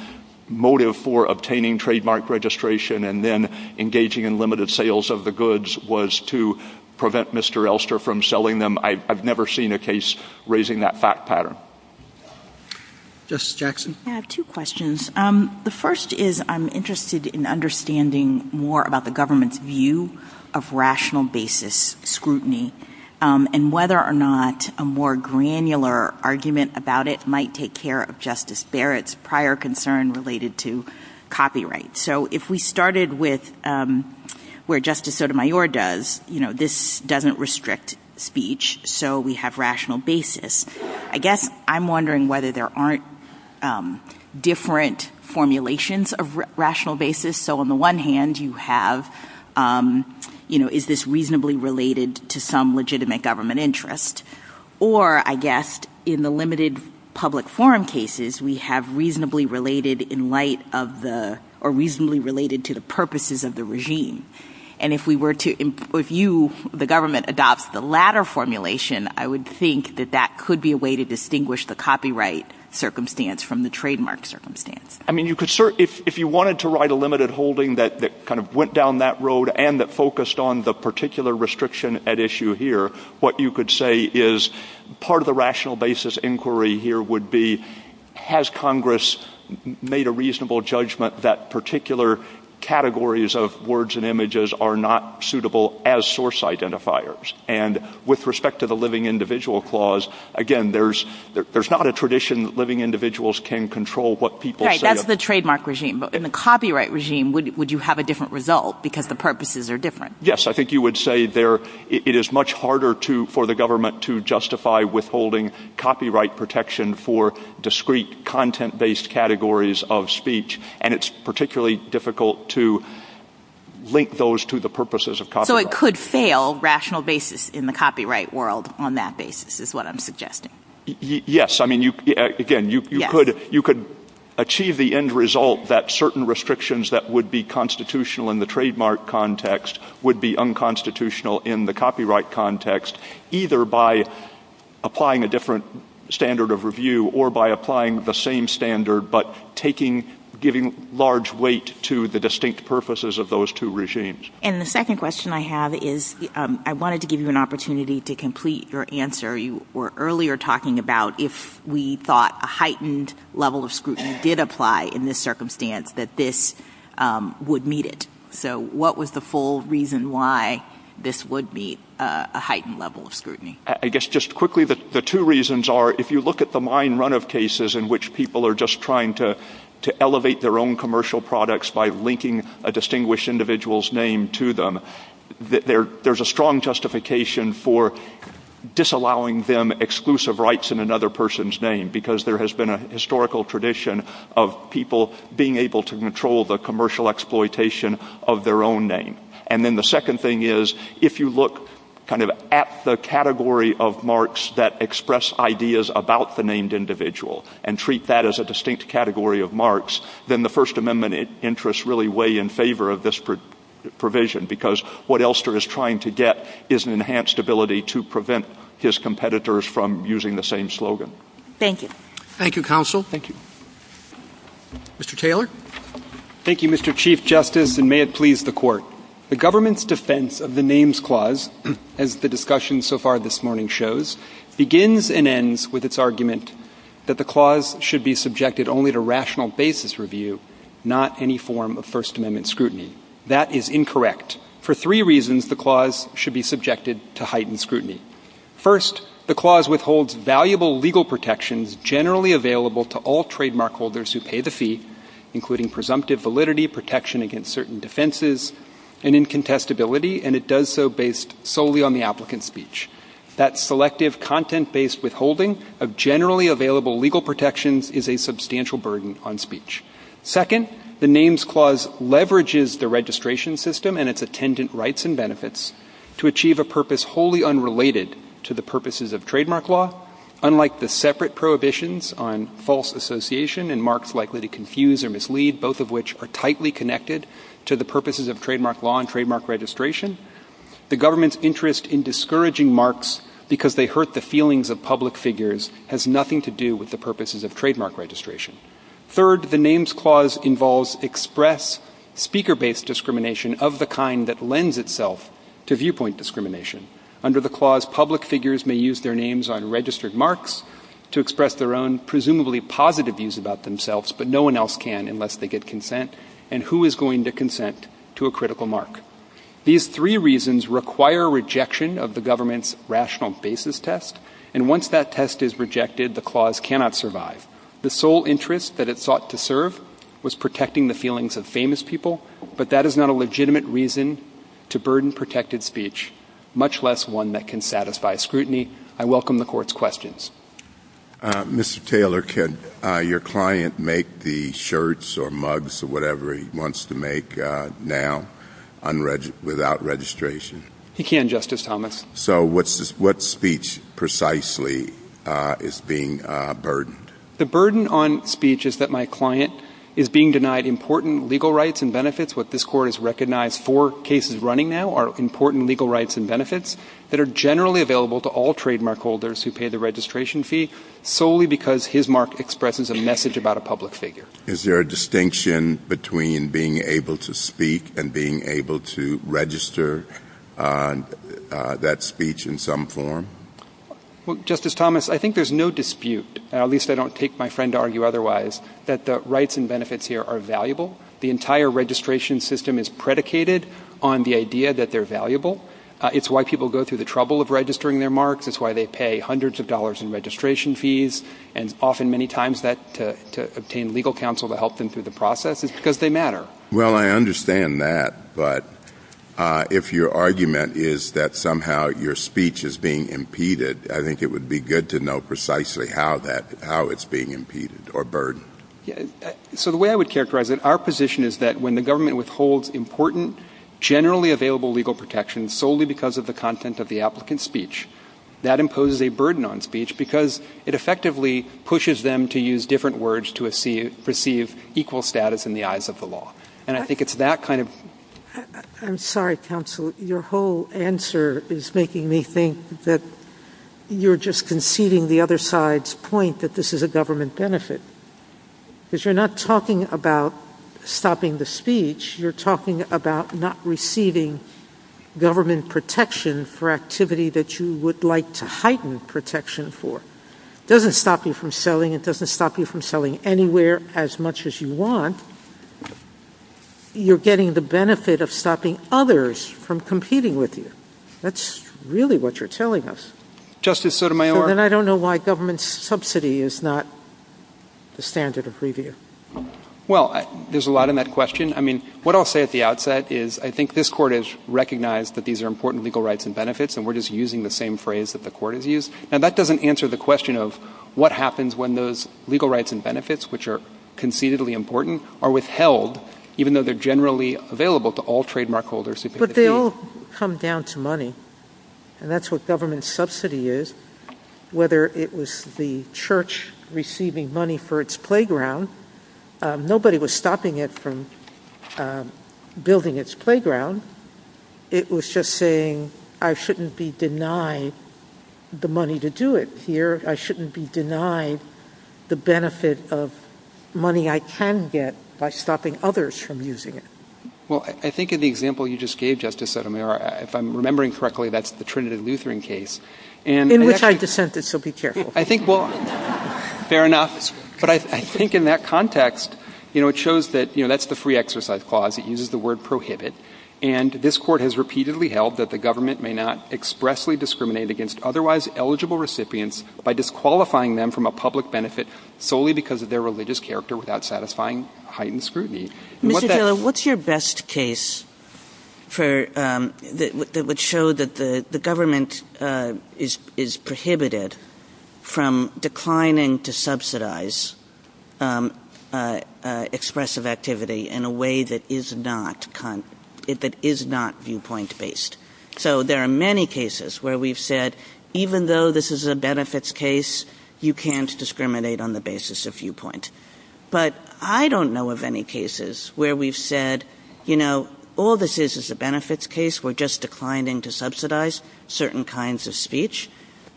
motive for obtaining trademark registration and then engaging in limited sales of the goods was to prevent Mr. Elster from selling them, I've never seen a case raising that fact pattern. Justice Jackson? I have two questions. The first is I'm interested in understanding more about the government's view of rational basis scrutiny and whether or not a more granular argument about it might take care of Justice Barrett's prior concern related to copyright. So if we started with where Justice Sotomayor does, you know, this doesn't restrict speech, so we have rational basis. I guess I'm wondering whether there aren't different formulations of rational basis. So on the one hand, you have, you know, is this reasonably related to some legitimate government interest? Or, I guess, in the limited public forum cases, we have reasonably related in light of the... or reasonably related to the purposes of the regime. And if we were to... if you, the government, adopts the latter formulation, I would think that that could be a way to distinguish the copyright circumstance from the trademark circumstance. I mean, if you wanted to write a limited holding that kind of went down that road and that focused on the particular restriction at issue here, what you could say is part of the rational basis inquiry here would be has Congress made a reasonable judgment that particular categories of words and images are not suitable as source identifiers? And with respect to the living individual clause, again, there's not a tradition that living individuals can control what people say... Right, that's the trademark regime. But in the copyright regime, would you have a different result because the purposes are different? Yes, I think you would say there... it is much harder for the government to justify withholding copyright protection for discrete content-based categories of speech, and it's particularly difficult to link those to the purposes of copyright. So it could fail rational basis in the copyright world on that basis is what I'm suggesting. Yes, I mean, again, you could achieve the end result that certain restrictions that would be constitutional in the trademark context would be unconstitutional in the copyright context either by applying a different standard of review or by applying the same standard but giving large weight to the distinct purposes of those two regimes. And the second question I have is I wanted to give you an opportunity to complete your answer. You were earlier talking about if we thought a heightened level of scrutiny did apply in this circumstance, that this would meet it. So what was the full reason why this would meet a heightened level of scrutiny? I guess just quickly, the two reasons are if you look at the mine runoff cases in which people are just trying to elevate their own commercial products by linking a distinguished individual's name to them, there's a strong justification for disallowing them exclusive rights in another person's name because there has been a historical tradition of people being able to control the commercial exploitation of their own name. And then the second thing is if you look kind of at the category of marks that express ideas about the named individual and treat that as a distinct category of marks, then the First Amendment interests really weigh in favor of this provision because what Elster is trying to get is an enhanced ability to prevent his competitors from using the same slogan. Thank you. Thank you, Counsel. Thank you. Mr. Taylor. Thank you, Mr. Chief Justice, and may it please the Court. The government's defense of the Names Clause, as the discussion so far this morning shows, begins and ends with its argument that the clause should be subjected only to rational basis review, not any form of First Amendment scrutiny. That is incorrect. For three reasons, the clause should be subjected to heightened scrutiny. First, the clause withholds valuable legal protections generally available to all trademark holders who pay the fee, including presumptive validity, protection against certain defenses, and incontestability, and it does so based solely on the applicant's speech. That selective content-based withholding of generally available legal protections is a substantial burden on speech. Second, the Names Clause leverages the registration system and its attendant rights and benefits to achieve a purpose wholly unrelated to the purposes of trademark law. Unlike the separate prohibitions on false association and marks likely to confuse or mislead, both of which are tightly connected to the purposes of trademark law and trademark registration, the government's interest in discouraging marks because they hurt the feelings of public figures has nothing to do with the purposes of trademark registration. Third, the Names Clause involves express speaker-based discrimination of the kind that lends itself to viewpoint discrimination. Under the clause, public figures may use their names on registered marks to express their own presumably positive views about themselves, but no one else can unless they get consent, and who is going to consent to a critical mark? These three reasons require rejection of the government's rational basis test, and once that test is rejected, the clause cannot survive. The sole interest that it sought to serve was protecting the feelings of famous people, but that is not a legitimate reason to burden protected speech, much less one that can satisfy scrutiny. I welcome the Court's questions. Mr. Taylor, could your client make the shirts or mugs or whatever he wants to make now without registration? He can, Justice Thomas. So what speech precisely is being burdened? The burden on speech is that my client is being denied important legal rights and benefits. What this Court has recognized four cases running now are important legal rights and benefits that are generally available to all trademark holders who pay the registration fee solely because his mark expresses a message about a public figure. Is there a distinction between being able to speak and being able to register that speech in some form? Well, Justice Thomas, I think there's no dispute, and at least I don't take my friend to argue otherwise, that the rights and benefits here are valuable. The entire registration system is predicated on the idea that they're valuable. It's why people go through the trouble of registering their marks. It's why they pay hundreds of dollars in registration fees, and often, many times, to obtain legal counsel to help them through the process. It's because they matter. Well, I understand that, but if your argument is that somehow your speech is being impeded, I think it would be good to know precisely how it's being impeded or burdened. So the way I would characterize it, our position is that when the government withholds important, generally available legal protections solely because of the content of the applicant's speech, that imposes a burden on speech because it effectively pushes them to use different words to receive equal status in the eyes of the law. And I think it's that kind of... I'm sorry, counsel. Your whole answer is making me think that you're just conceding the other side's point that this is a government benefit. Because you're not talking about stopping the speech. You're talking about not receiving government protection for activity that you would like to heighten protection for. It doesn't stop you from selling. It doesn't stop you from selling anywhere as much as you want. You're getting the benefit of stopping others from competing with you. That's really what you're telling us. Justice Sotomayor... Then I don't know why government subsidy is not the standard of review. Well, there's a lot in that question. I mean, what I'll say at the outset is I think this Court has recognized that these are important legal rights and benefits, and we're just using the same phrase that the Court has used. Now, that doesn't answer the question of what happens when those legal rights and benefits, which are concededly important, are withheld, even though they're generally available to all trademark holders... But they all come down to money, and that's what government subsidy is. Whether it was the church receiving money for its playground, nobody was stopping it from building its playground. It was just saying, I shouldn't be denied the money to do it here. I shouldn't be denied the benefit of money I can get by stopping others from using it. Well, I think in the example you just gave, Justice Sotomayor, if I'm remembering correctly, that's the Trinity Lutheran case. In which I dissent that she'll be careful. I think, well, fair enough. But I think in that context, it shows that that's the free exercise clause. It uses the word prohibit. And this Court has repeatedly held that the government may not expressly discriminate against otherwise eligible recipients by disqualifying them from a public benefit solely because of their religious character without satisfying heightened scrutiny. What's your best case that would show that the government is prohibited from declining to subsidize expressive activity in a way that is not viewpoint-based? So there are many cases where we've said, even though this is a benefits case, you can't discriminate on the basis of viewpoint. But I don't know of any cases where we've said, you know, all this is is a benefits case. We're just declining to subsidize certain kinds of speech.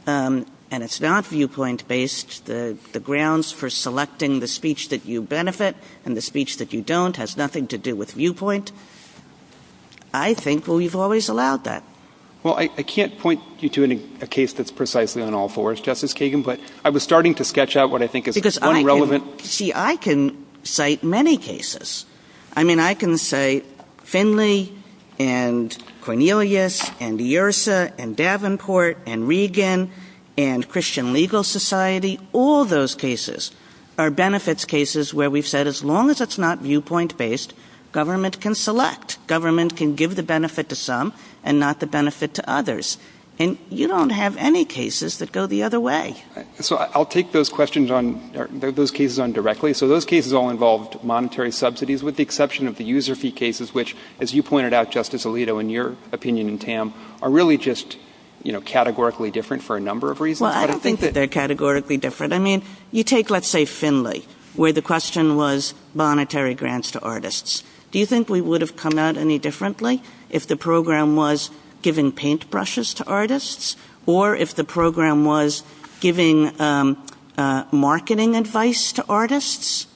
And it's not viewpoint-based. The grounds for selecting the speech that you benefit and the speech that you don't has nothing to do with viewpoint. I think we've always allowed that. Well, I can't point you to a case that's precisely on all fours, Justice Kagan, but I was starting to sketch out what I think is one relevant... Because, see, I can cite many cases. I mean, I can say Finley and Cornelius and DeIrsa and Davenport and Regan and Christian Legal Society. All those cases are benefits cases where we've said as long as it's not viewpoint-based, government can select. Government can give the benefit to some and not the benefit to others. And you don't have any cases that go the other way. So I'll take those cases on directly. So those cases all involved monetary subsidies with the exception of the user fee cases, which, as you pointed out, Justice Alito, in your opinion and Tam, are really just categorically different for a number of reasons. Well, I don't think that they're categorically different. I mean, you take, let's say, Finley, where the question was monetary grants to artists. Do you think we would have come out any differently if the program was giving paintbrushes to artists or if the program was giving marketing advice to artists?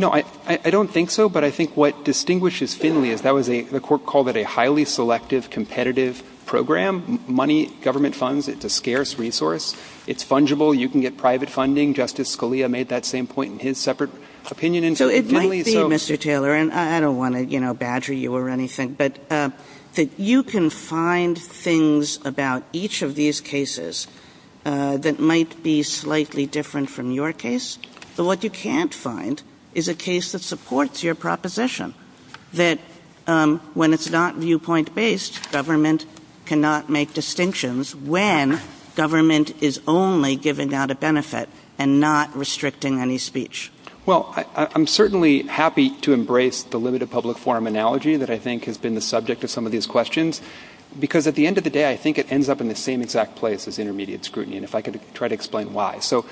No, I don't think so. But I think what distinguishes Finley is that the court called it a highly selective, competitive program. Money, government funds, it's a scarce resource. It's fungible. You can get private funding. Justice Scalia made that same point in his separate opinion. So it might be, Mr. Taylor, and I don't want to badger you or anything, but that you can find things about each of these cases that might be slightly different from your case. But what you can't find is a case that supports your proposition that when it's not viewpoint-based, government cannot make distinctions when government is only giving out a benefit and not restricting any speech. Well, I'm certainly happy to embrace the limited public forum analogy that I think has been the subject of some of these questions, because at the end of the day, I think it ends up in the same exact place as intermediate scrutiny, and if I could try to explain why. So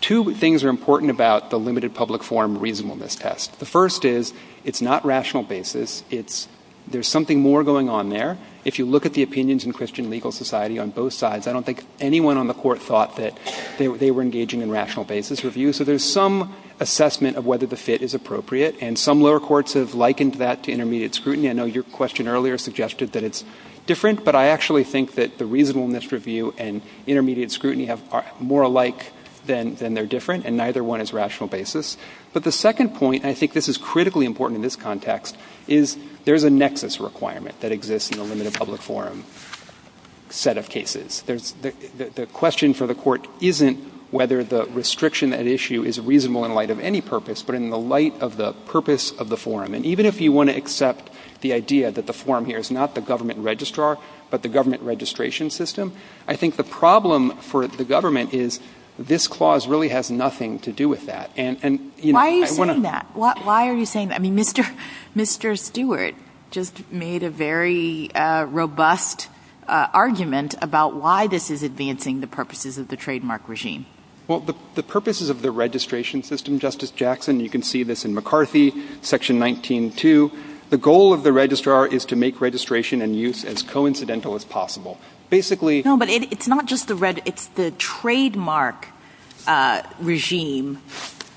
two things are important about the limited public forum reasonableness test. The first is it's not rational basis. There's something more going on there. If you look at the opinions in Christian legal society on both sides, I don't think anyone on the court thought that they were engaging in rational basis review. So there's some assessment of whether the fit is appropriate, and some lower courts have likened that to intermediate scrutiny. I know your question earlier suggested that it's different, but I actually think that the reasonableness review and intermediate scrutiny are more alike than they're different, and neither one is rational basis. But the second point, and I think this is critically important in this context, is there's a nexus requirement that exists in the limited public forum set of cases. The question for the court isn't whether the restriction at issue is reasonable in light of any purpose, but in the light of the purpose of the forum. And even if you want to accept the idea that the forum here is not the government registrar, but the government registration system, I think the problem for the government is this clause really has nothing to do with that. Why are you saying that? I mean, Mr. Stewart just made a very robust argument about why this is advancing the purposes of the trademark regime. Well, the purposes of the registration system, Justice Jackson, you can see this in McCarthy, Section 19-2. The goal of the registrar is to make registration and use as coincidental as possible. Basically... No, but it's not just the reg... It's the trademark regime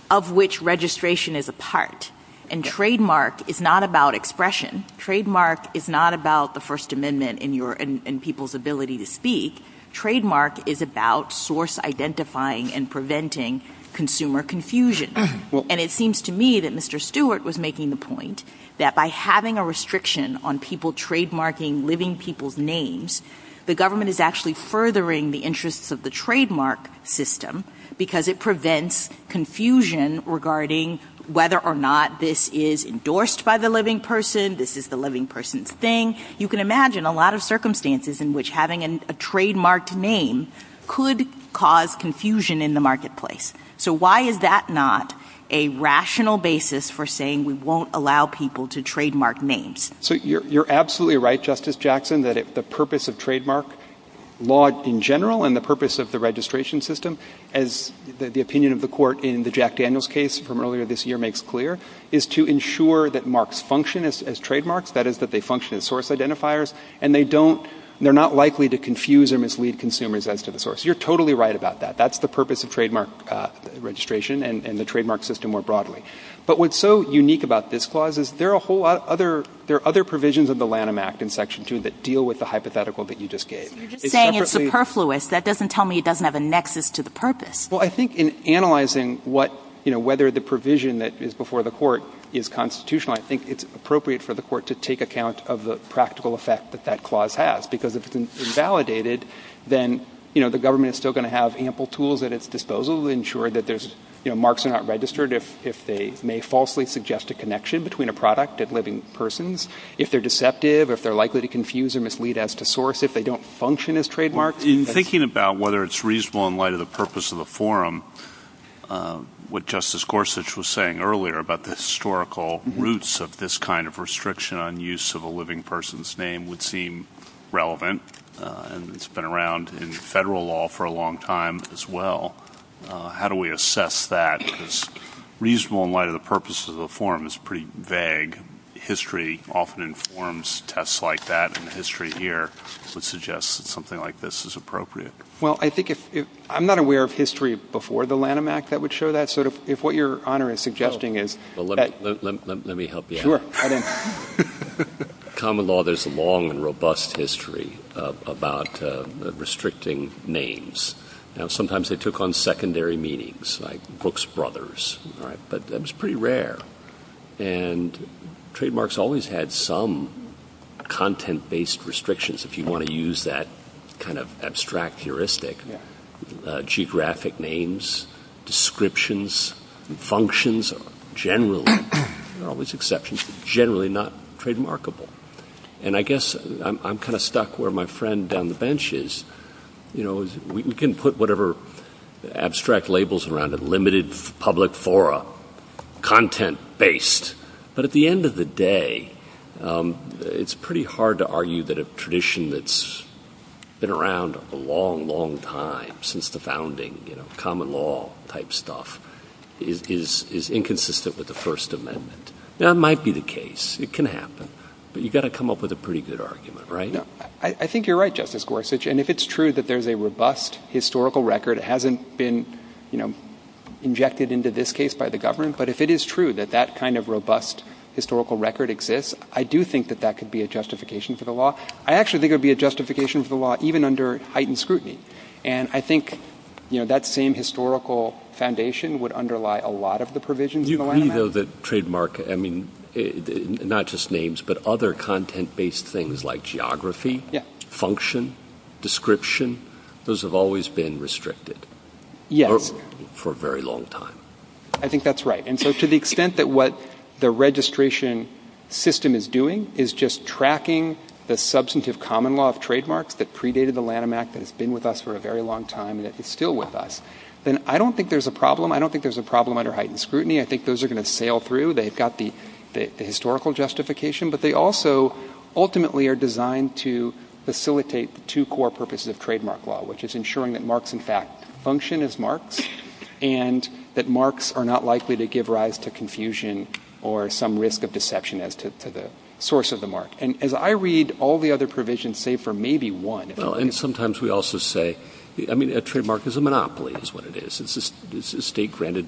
of which registration is a part. And trademark is not about expression. Trademark is not about the First Amendment and people's ability to speak. Trademark is about source identifying and preventing consumer confusion. And it seems to me that Mr. Stewart was making the point that by having a restriction on people trademarking living people's names, the government is actually furthering the interests of the trademark system because it prevents confusion regarding whether or not this is endorsed by the living person, this is the living person's thing. You can imagine a lot of circumstances in which having a trademarked name could cause confusion in the marketplace. So why is that not a rational basis for saying we won't allow people to trademark names? So you're absolutely right, Justice Jackson, that the purpose of trademark law in general and the purpose of the registration system, as the opinion of the court in the Jack Daniels case from earlier this year makes clear, is to ensure that marks function as trademarks, that is, that they function as source identifiers, and they're not likely to confuse or mislead consumers as to the source. You're totally right about that. That's the purpose of trademark registration and the trademark system more broadly. But what's so unique about this clause is there are other provisions of the Lanham Act in Section 2 that deal with the hypothetical that you just gave. You're just saying it's superfluous. That doesn't tell me it doesn't have a nexus to the purpose. Well, I think in analyzing whether the provision that is before the court is constitutional, I think it's appropriate for the court to take account of the practical effect that that clause has because if it's invalidated, then the government is still going to have ample tools at its disposal to ensure that marks are not registered if they may falsely suggest a connection between a product and living persons, if they're deceptive, if they're likely to confuse or mislead as to source, if they don't function as trademarks. In thinking about whether it's reasonable in light of the purpose of the forum, what Justice Gorsuch was saying earlier about the historical roots of this kind of restriction on use of a living person's name would seem relevant, and it's been around in federal law for a long time as well. How do we assess that as reasonable in light of the purpose of the forum? It's pretty vague. History often informs tests like that in the history here to suggest that something like this is appropriate. Well, I think if... I'm not aware of history before the Lanham Act that would show that, so if what Your Honor is suggesting is... Well, let me help you out. Sure. I don't... In common law, there's a long and robust history about restricting names. Now, sometimes they took on secondary meanings, like Brooks Brothers, right? But that was pretty rare. And trademarks always had some content-based restrictions if you want to use that kind of abstract heuristic. Geographic names, descriptions, functions, generally, always exceptions, generally not trademarkable. And I guess I'm kind of stuck where my friend down the bench is. You know, we can put whatever abstract labels around a limited public forum, content-based, but at the end of the day, it's pretty hard to argue that a tradition that's been around a long, long time, since the founding, you know, common law-type stuff is inconsistent with the First Amendment. Now, it might be the case. It can happen. But you've got to come up with a pretty good argument, right? I think you're right, Justice Gorsuch. And if it's true that there's a robust historical record, it hasn't been, you know, injected into this case by the government, but if it is true that that kind of robust historical record exists, I do think that that could be a justification for the law. I actually think it would be a justification for the law even under heightened scrutiny. And I think, you know, that same historical foundation would underlie a lot of the provisions of the Land Act. You really know that trademark, I mean, not just names, but other content-based things like geography, function, description, those have always been restricted. Yes. For a very long time. I think that's right. And so, to the extent that what the registration system is doing is just tracking the substantive common law of trademarks that predated the Land Act and has been with us for a very long time and is still with us, then I don't think there's a problem. I don't think there's a problem under heightened scrutiny. I think those are going to sail through. They've got the historical justification, but they also ultimately are designed to facilitate two core purposes of trademark law, which is ensuring that marks, in fact, function as marks and that marks are not likely to give rise to confusion or some risk of deception as to the source of the mark. And as I read all the other provisions, save for maybe one... Well, and sometimes we also say, I mean, a trademark is a monopoly is what it is. It's a state-granted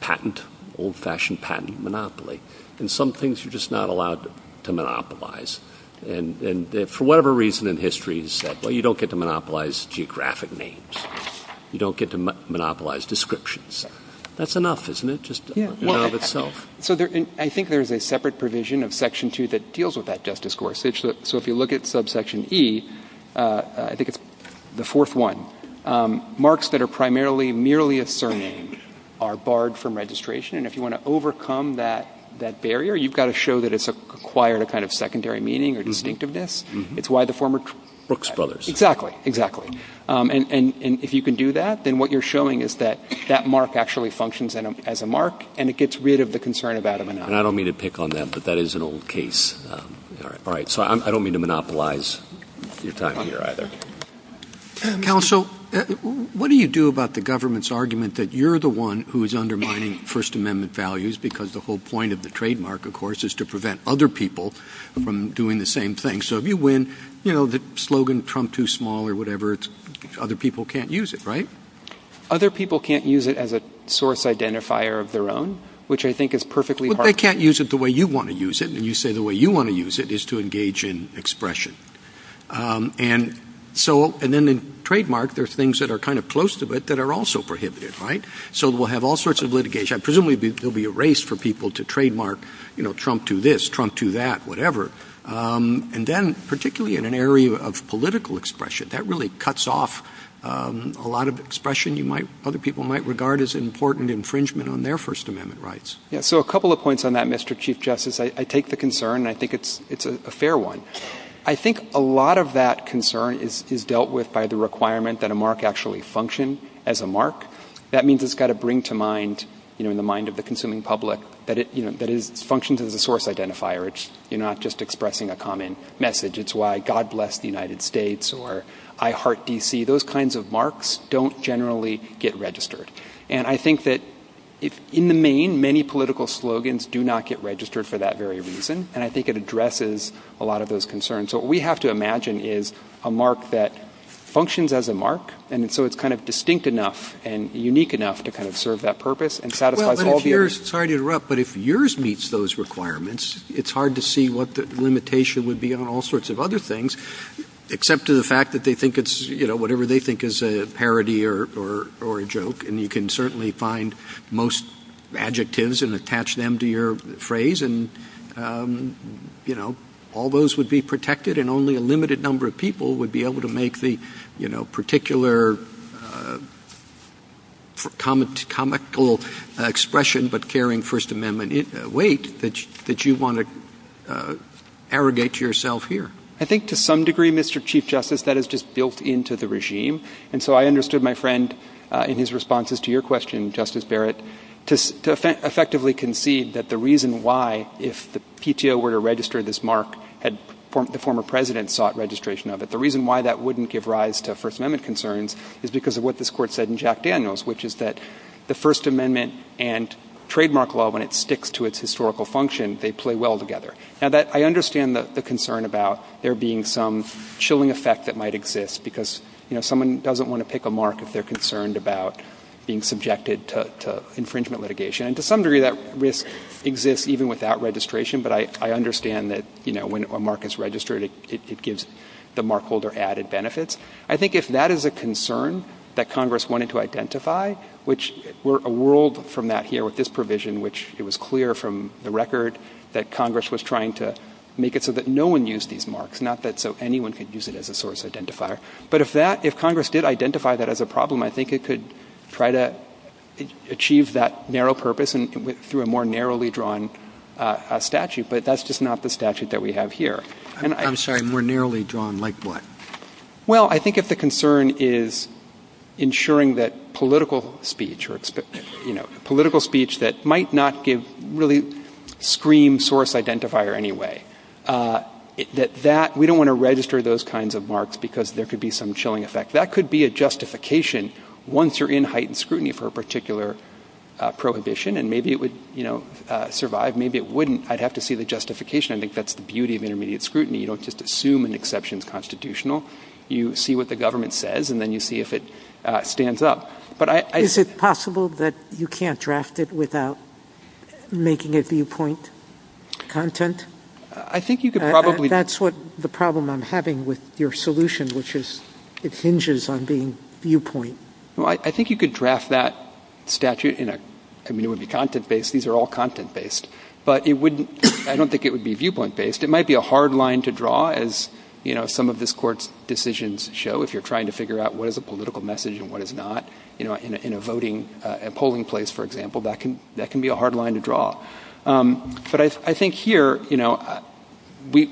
patent, old-fashioned patent monopoly. And some things you're just not allowed to monopolize. And for whatever reason in history, it's said, well, you don't get to monopolize geographic names. You don't get to monopolize descriptions. That's enough, isn't it? Just enough in and of itself. So I think there's a separate provision of Section 2 that deals with that just discourse. So if you look at subsection E, I think it's the fourth one, marks that are primarily merely a surname are barred from registration. And if you want to overcome that barrier, you've got to show that it's acquired a kind of secondary meaning or distinctiveness. It's why the former... Brooks Brothers. Exactly, exactly. And if you can do that, then what you're showing is that that mark actually functions as a mark and it gets rid of the concern about it. And I don't mean to pick on them, but that is an old case. Counsel, what do you do about the government's argument that you're the one who's undermining First Amendment values because the whole point of the trademark, of course, is to prevent other people from doing the same thing. So if you win, you know, the slogan Trump too small or whatever, other people can't use it, right? Other people can't use it as a source identifier of their own, which I think is perfectly... But they can't use it the way you want to use it. And you say the way you want to use it is to engage in expression. And so... And then the trademark, there's things that are kind of close to it that are also prohibited, right? So we'll have all sorts of litigation. Presumably, there'll be a race for people to trademark, you know, Trump do this, Trump do that, whatever. And then, particularly in an area of political expression, that really cuts off a lot of expression other people might regard as important infringement on their First Amendment rights. Yeah, so a couple of points on that, Mr. Chief Justice. I take the concern and I think it's a fair one. I think a lot of that concern is dealt with by the requirement that a mark actually function as a mark. That means it's got to bring to mind, you know, in the mind of the consuming public, that it functions as a source identifier. It's not just expressing a common message. It's why God bless the United States or I heart D.C. Those kinds of marks don't generally get registered. And I think that in the main, many political slogans do not get registered for that very reason. And I think it addresses a lot of those concerns. So what we have to imagine is a mark that functions as a mark, and so it's kind of distinct enough and unique enough to kind of serve that purpose and satisfies all of your... Well, let me just, sorry to interrupt, but if yours meets those requirements, it's hard to see what the limitation would be on all sorts of other things, except to the fact that they think it's, you know, whatever they think is a parody or a joke. And you can certainly find most adjectives and attach them to your phrase. And, you know, all those would be protected and only a limited number of people would be able to make the, you know, particular comical expression, but carrying First Amendment weight that you want to arrogate to yourself here. I think to some degree, Mr. Chief Justice, that is just built into the regime. And so I understood my friend in his responses to your question, Justice Barrett, to effectively concede that the reason why if the PTO were to register this mark had the former president sought registration of it, the reason why that wouldn't give rise to First Amendment concerns is because of what this court said in Jack Daniels, which is that the First Amendment and trademark law, when it sticks to its historical function, they play well together. Now, I understand the concern about there being some chilling effect that might exist because, you know, someone doesn't want to pick a mark if they're concerned about being subjected to infringement litigation. And to some degree, that risk exists even without registration, but I understand that, you know, when a mark is registered, it gives the mark holder added benefits. I think if that is a concern that Congress wanted to identify, which we're a world from that here with this provision, which it was clear from the record that Congress was trying to make it so that no one used these marks, not that so anyone could use it as a source identifier. But if Congress did identify that as a problem, I think it could try to achieve that narrow purpose through a more narrowly drawn statute, but that's just not the statute that we have here. I'm sorry, more narrowly drawn like what? Well, I think if the concern is ensuring that political speech or, you know, political speech that might not give really scream source identifier anyway, that we don't want to register those kinds of marks because there could be some chilling effect. That could be a justification once you're in heightened scrutiny for a particular prohibition, and maybe it would, you know, survive. Maybe it wouldn't. I'd have to see the justification. I think that's the beauty of intermediate scrutiny. You don't just assume an exception is constitutional. You see what the government says, and then you see if it stands up. But I... Is it possible that you can't draft it without making it viewpoint content? I think you could probably... That's what the problem I'm having with your solution, which is it hinges on being viewpoint. I think you could draft that statute in a... I mean, it would be content-based. These are all content-based. But it wouldn't... I don't think it would be viewpoint-based. It might be a hard line to draw, as, you know, some of this court's decisions show. If you're trying to figure out what is a political message and what is not, you know, in a voting polling place, for example, that can be a hard line to draw. But I think here, you know, we...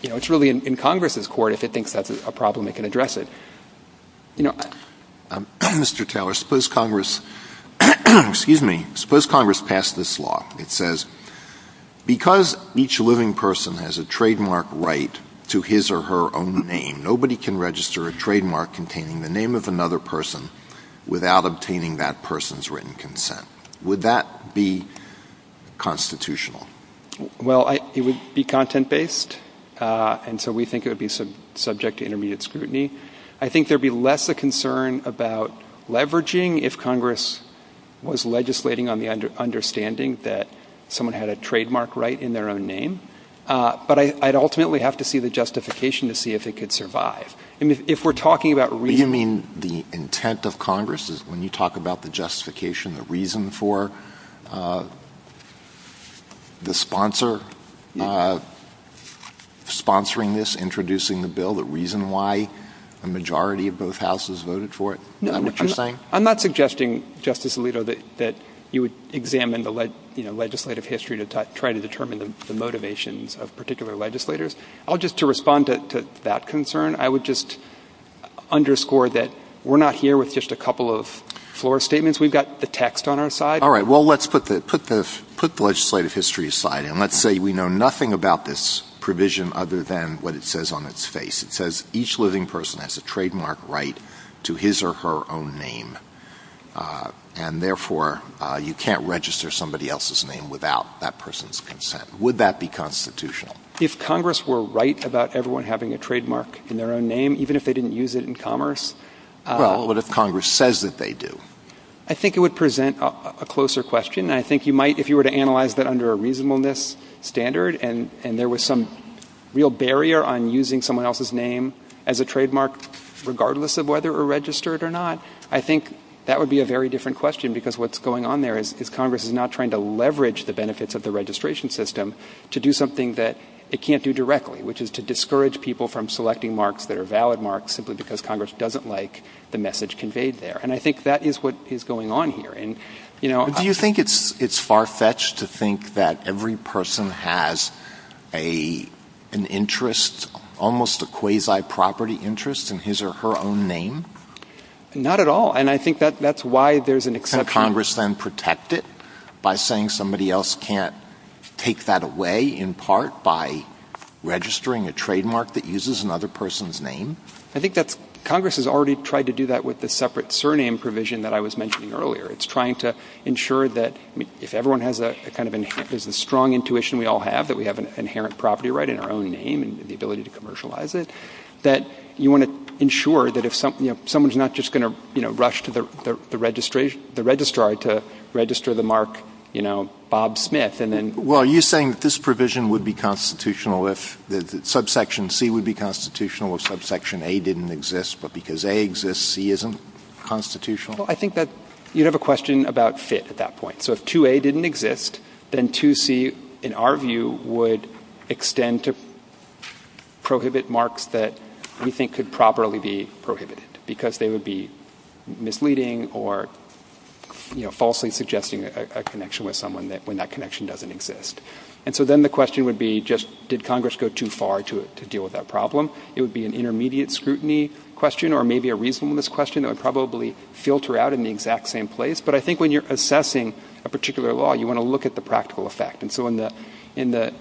You know, it's really in Congress's court if it thinks that's a problem, it can address it. You know, Mr. Taylor, suppose Congress... Excuse me. Suppose Congress passed this law. It says because each living person has a trademark right to his or her own name, nobody can register a trademark containing the name of another person without obtaining that person's written consent. Would that be constitutional? Well, it would be content-based, and so we think it would be subject to intermediate scrutiny. I think there'd be less of a concern about leveraging if Congress was legislating on the understanding that someone had a trademark right in their own name. But I'd ultimately have to see the justification to see if it could survive. I mean, if we're talking about... Do you mean the intent of Congress is when you talk about the justification, the reason for the sponsor sponsoring this, the reason why the majority of both houses voted for it? Is that what you're saying? I'm not suggesting, Justice Alito, that you would examine the legislative history to try to determine the motivations of particular legislators. Just to respond to that concern, I would just underscore that we're not here with just a couple of floor statements. We've got the text on our side. All right, well, let's put the legislative history aside, and let's say we know nothing about this provision other than what it says on its face. It says each living person has a trademark right to his or her own name, and therefore you can't register somebody else's name without that person's consent. Would that be constitutional? If Congress were right about everyone having a trademark in their own name, even if they didn't use it in commerce... Well, what if Congress says that they do? I think it would present a closer question. I think you might, if you were to analyze that under a reasonableness standard, and there was some real barrier on using someone else's name as a trademark regardless of whether it were registered or not, I think that would be a very different question because what's going on there is Congress is not trying to leverage the benefits of the registration system to do something that it can't do directly, which is to discourage people from selecting marks that are valid marks simply because Congress doesn't like the message conveyed there. And I think that is what is going on here. Do you think it's far-fetched to think that every person has an interest, almost a quasi-property interest in his or her own name? Not at all. And I think that's why there's an expectation... Can Congress then protect it by saying somebody else can't take that away, in part, by registering a trademark that uses another person's name? I think that Congress has already tried to do that with the separate surname provision that I was mentioning earlier. It's trying to ensure that, if everyone has the strong intuition we all have, that we have an inherent property right in our own name and the ability to commercialize it, that you want to ensure that someone's not just going to rush to the registrar to register the mark, you know, Bob Smith, and then... Well, are you saying that this provision would be constitutional if subsection C would be constitutional if subsection A didn't exist, but because A exists, C isn't constitutional? I think that you have a question about fit at that point. So if 2A didn't exist, then 2C, in our view, would extend to prohibit marks that we think could properly be prohibited because they would be misleading or falsely suggesting a connection with someone when that connection doesn't exist. And so then the question would be, just did Congress go too far to deal with that problem? It would be an intermediate scrutiny question or maybe a reasonableness question that would probably filter out in the exact same place. But I think when you're assessing a particular law, you want to look at the practical effect. And so in the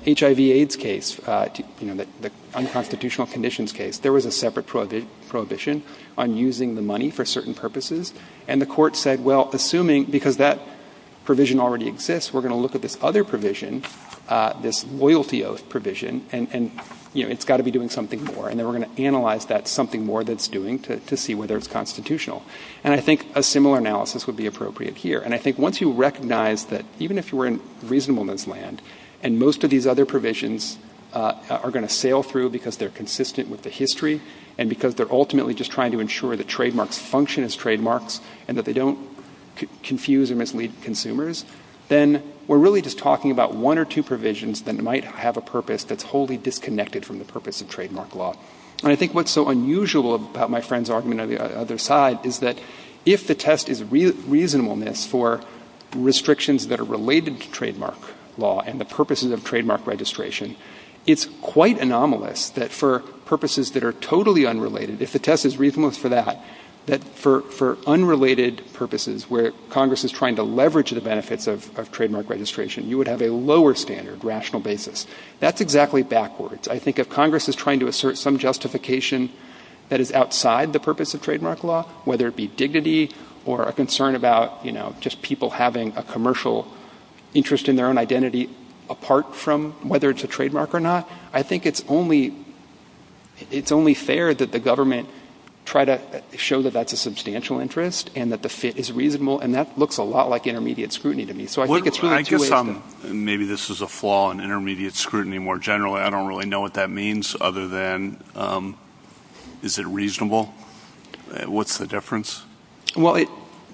HIV-AIDS case, you know, the unconstitutional conditions case, there was a separate prohibition on using the money for certain purposes. And the court said, well, assuming... Because that provision already exists, we're going to look at this other provision, this loyalty oath provision, and, you know, it's got to be doing something more. And then we're going to analyze that something more that it's doing to see whether it's constitutional. And I think a similar analysis would be appropriate here. And I think once you recognize that even if you were in reasonableness land and most of these other provisions are going to sail through because they're consistent with the history and because they're ultimately just trying to ensure that trademarks function as trademarks and that they don't confuse and mislead consumers, then we're really just talking about one or two provisions that might have a purpose that's wholly disconnected from the purpose of trademark law. And I think what's so unusual about my friend's argument on the other side is that if the test is reasonableness for restrictions that are related to trademark law and the purposes of trademark registration, it's quite anomalous that for purposes that are totally unrelated, if the test is reasonableness for that, that for unrelated purposes where Congress is trying to leverage the benefits of trademark registration, you would have a lower standard, rational basis. That's exactly backwards. I think if Congress is trying to assert some justification that is outside the purpose of trademark law, whether it be dignity or a concern about, you know, just people having a commercial interest in their own identity apart from whether it's a trademark or not, I think it's only fair that the government try to show that that's a substantial interest and that the fit is reasonable, and that looks a lot like intermediate scrutiny to me. So I think it's... Maybe this is a flaw in intermediate scrutiny more generally. I don't really know what that means other than is it reasonable? What's the difference? Well,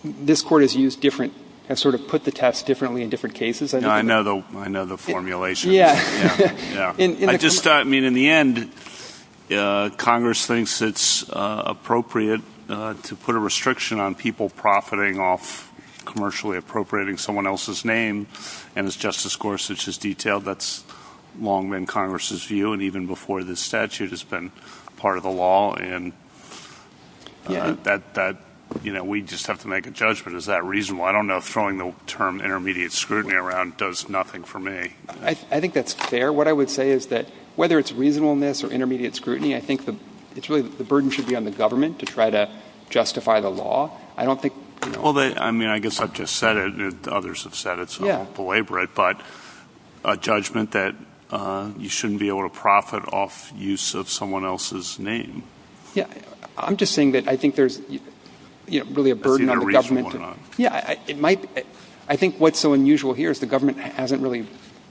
this Court has used different... has sort of put the test differently in different cases. I know the formulation. Yeah. I just thought, I mean, in the end, Congress thinks it's appropriate to put a restriction on people profiting off commercially appropriating someone else's name, and it's just a score such as detail. That's long been Congress's view, and even before this statute has been part of the law, and that, you know, we just have to make a judgment. Is that reasonable? I don't know if throwing the term intermediate scrutiny around does nothing for me. I think that's fair. What I would say is that whether it's reasonableness or intermediate scrutiny, I think it's really the burden should be on the government to try to justify the law. I don't think... Well, I mean, I guess I've just said it, and others have said it, so I won't belabor it, but a judgment that you shouldn't be able to profit off use of someone else's name. Yeah, I'm just saying that I think there's, you know, really a burden on the government. Yeah, it might... I think what's so unusual here is the government hasn't really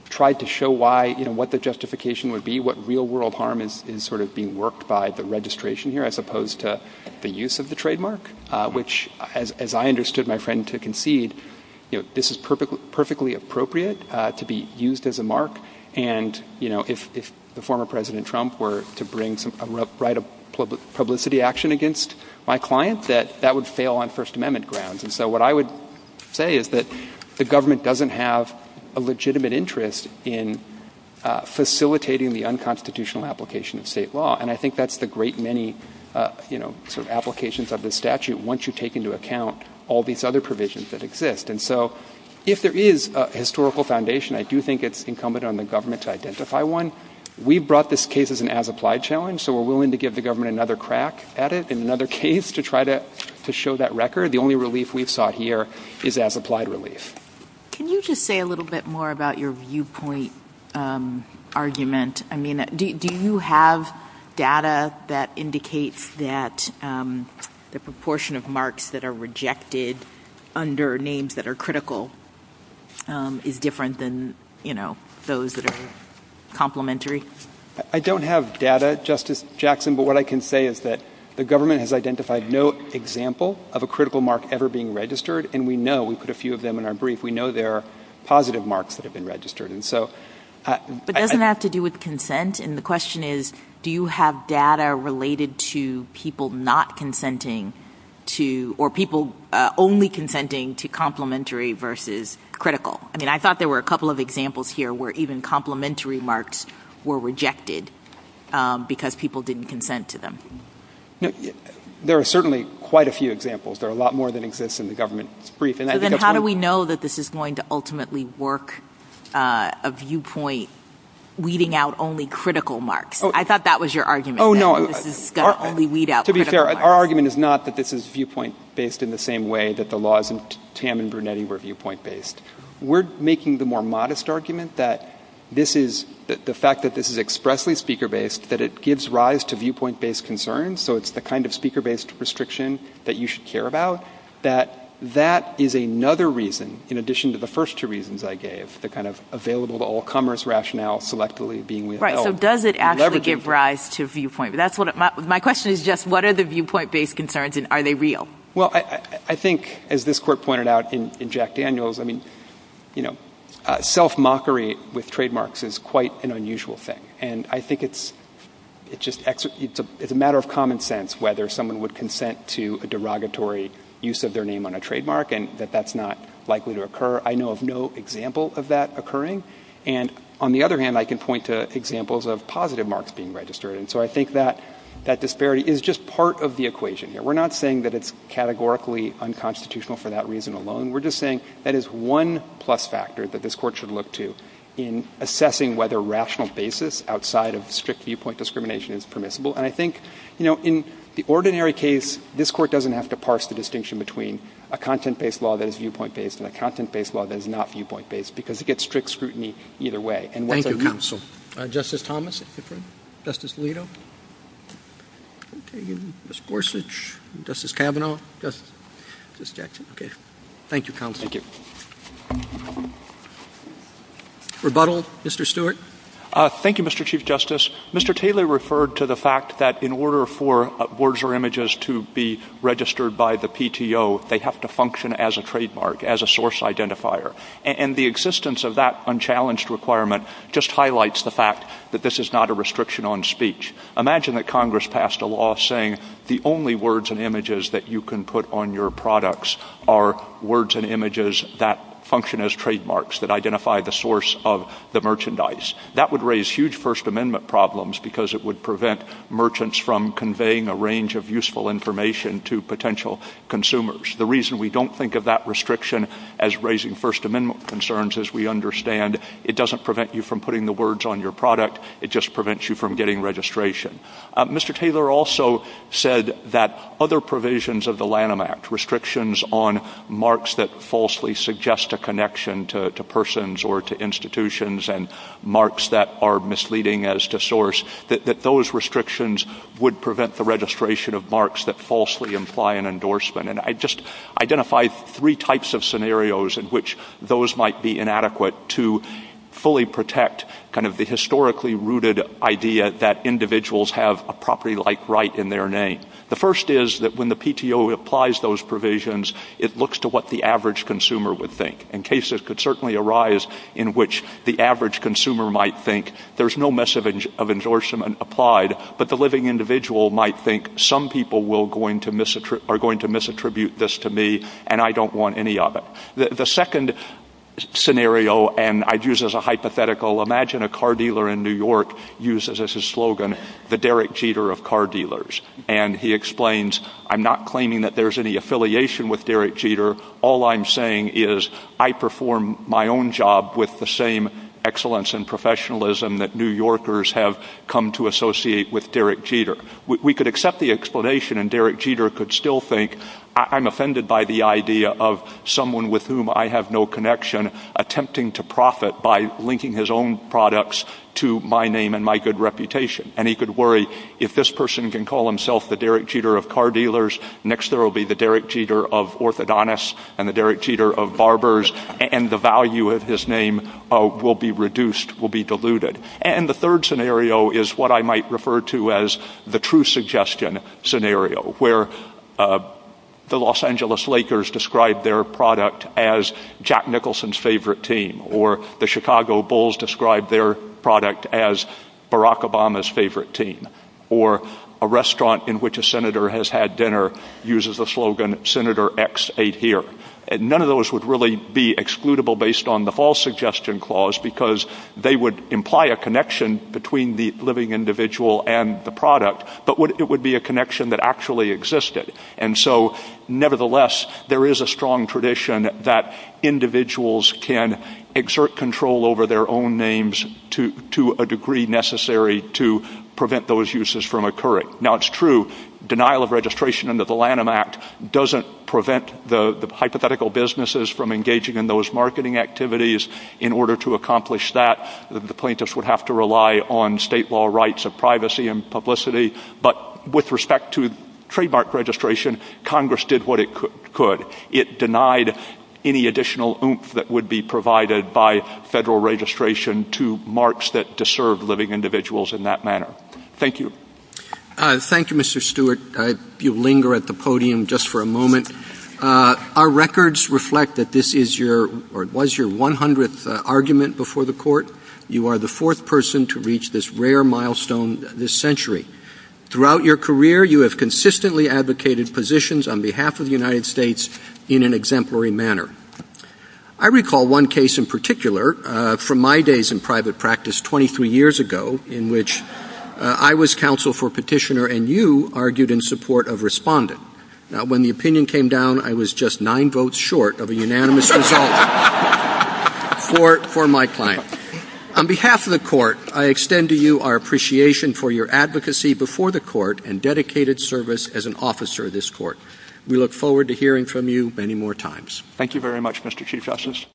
tried to show why, you know, what the justification would be, what real-world harm is sort of being worked by the registration here, as opposed to the use of the trademark, which, as I understood my friend to concede, you know, this is perfectly appropriate to be used as a mark, and, you know, if the former President Trump were to bring a right of publicity action against my client, that that would fail on First Amendment grounds. And so what I would say is that the government doesn't have a legitimate interest in facilitating the unconstitutional application of state law, and I think that's the great many, you know, sort of applications of this statute once you take into account all these other provisions that exist. And so if there is a historical foundation, I do think it's incumbent on the government to identify one. We brought this case as an as-applied challenge, so we're willing to give the government another crack at it, another case to try to show that record. The only relief we've sought here is as-applied relief. Can you just say a little bit more about your viewpoint argument? I mean, do you have data that indicates that the proportion of marks that are rejected under names that are critical is different than, you know, those that are complementary? I don't have data, Justice Jackson, but what I can say is that the government has identified no example of a critical mark ever being registered, and we know we put a few of them in our brief. We know there are positive marks that have been registered, and so... But doesn't that have to do with consent? And the question is, do you have data related to people not consenting to... or people only consenting to complementary versus critical? I mean, I thought there were a couple of examples here where even complementary marks were rejected because people didn't consent to them. There are certainly quite a few examples. There are a lot more that exist in the government brief. Then how do we know that this is going to ultimately work, a viewpoint weeding out only critical marks? I thought that was your argument. Oh, no, to be fair, our argument is not that this is viewpoint-based in the same way that the laws in Tam and Brunetti were viewpoint-based. We're making the more modest argument that the fact that this is expressly speaker-based, that it gives rise to viewpoint-based concerns, so it's the kind of speaker-based restriction that you should care about, that that is another reason, in addition to the first two reasons I gave, the kind of available-to-all-comers rationale selectively being withheld. Right, so does it actually give rise to viewpoint? My question is just what are the viewpoint-based concerns, and are they real? Well, I think, as this court pointed out in Jack Daniels, I mean, you know, self-mockery with trademarks is quite an unusual thing, and I think it's just a matter of common sense whether someone would consent to a derogatory use of their name on a trademark, and that that's not likely to occur. I know of no example of that occurring, and on the other hand, I can point to examples of positive marks being registered, and so I think that that disparity is just part of the equation here. We're not saying that it's categorically unconstitutional for that reason alone. We're just saying that is one plus factor that this court should look to in assessing whether rational basis outside of strict viewpoint discrimination is permissible, and I think, you know, in the ordinary case, this court doesn't have to parse the distinction between a content-based law that is viewpoint-based and a content-based law that is not viewpoint-based because it gets strict scrutiny either way. Thank you, counsel. Justice Thomas. Justice Alito. Ms. Gorsuch. Justice Kavanaugh. Thank you, counsel. Thank you. Rebuttal, Mr. Stewart. Thank you, Mr. Chief Justice. Mr. Taylor referred to the fact that in order for words or images to be registered by the PTO, they have to function as a trademark, as a source identifier, and the existence of that unchallenged requirement just highlights the fact that this is not a restriction on speech. Imagine that Congress passed a law saying the only words and images that you can put on your products are words and images that function as trademarks, that identify the source of the merchandise. That would raise huge First Amendment problems because it would prevent merchants from conveying a range of useful information to potential consumers. The reason we don't think of that restriction as raising First Amendment concerns is we understand it doesn't prevent you from putting the words on your product. It just prevents you from getting registration. Mr. Taylor also said that other provisions of the Lanham Act, restrictions on marks that falsely suggest a connection to persons or to institutions and marks that are misleading as to source, that those restrictions would prevent the registration of marks that falsely imply an endorsement. I just identified three types of scenarios in which those might be inadequate to fully protect the historically rooted idea that individuals have a property-like right in their name. The first is that when the PTO applies those provisions, it looks to what the average consumer would think. Cases could certainly arise in which the average consumer might think there's no mess of endorsement applied, but the living individual might think some people are going to misattribute this to me and I don't want any of it. The second scenario and I'd use as a hypothetical, imagine a car dealer in New York uses as his slogan the Derek Jeter of car dealers. He explains, I'm not claiming that there's any affiliation with Derek Jeter. All I'm saying is I perform my own job with the same excellence and professionalism that New Yorkers have come to associate with Derek Jeter. We could accept the explanation and Derek Jeter could still think I'm offended by the idea of someone with whom I have no connection attempting to profit by linking his own products to my name and my good reputation. He could worry if this person can call himself the Derek Jeter of car dealers, next there will be the Derek Jeter of orthodontists and the Derek Jeter of barbers and the value of his name will be reduced, will be diluted. And the third scenario is what I might refer to as the true suggestion scenario where the Los Angeles Lakers describe their product as Jack Nicholson's favorite team or the Chicago Bulls describe their product as Barack Obama's favorite team or a restaurant in which a senator has had dinner uses the slogan, Senator X ate here. None of those would really be excludable based on the false suggestion clause because they would imply a connection between the living individual and the product but it would be a connection that actually existed. And so nevertheless there is a strong tradition that individuals can exert control over their own names to a degree necessary to prevent those uses from occurring. Now it's true denial of registration under the Lanham Act doesn't prevent the hypothetical businesses from engaging in those marketing activities. In order to accomplish that the plaintiffs would have to rely on state law rights of privacy and publicity but with respect to trademark registration Congress did what it could. It denied any additional oomph that would be provided by federal registration to marks that deserve living individuals in that manner. Thank you. Thank you Mr. Stewart. You linger at the podium just for a moment. Our records reflect that this is your or was your 100th argument before the court. You are the fourth person to reach this rare milestone this century. Throughout your career you have consistently advocated positions on behalf of the United States in an exemplary manner. I recall one case in particular from my days in private practice 23 years ago in which I was counsel for petitioner and you argued in support of respondent. Now when the opinion came down I was just 9 votes short of a unanimous result for my client. On behalf of the court I extend to you our appreciation for your advocacy before the court and dedicated service as an officer of this court. We look forward to hearing from you many more times. Thank you very much Mr. Chief Justice.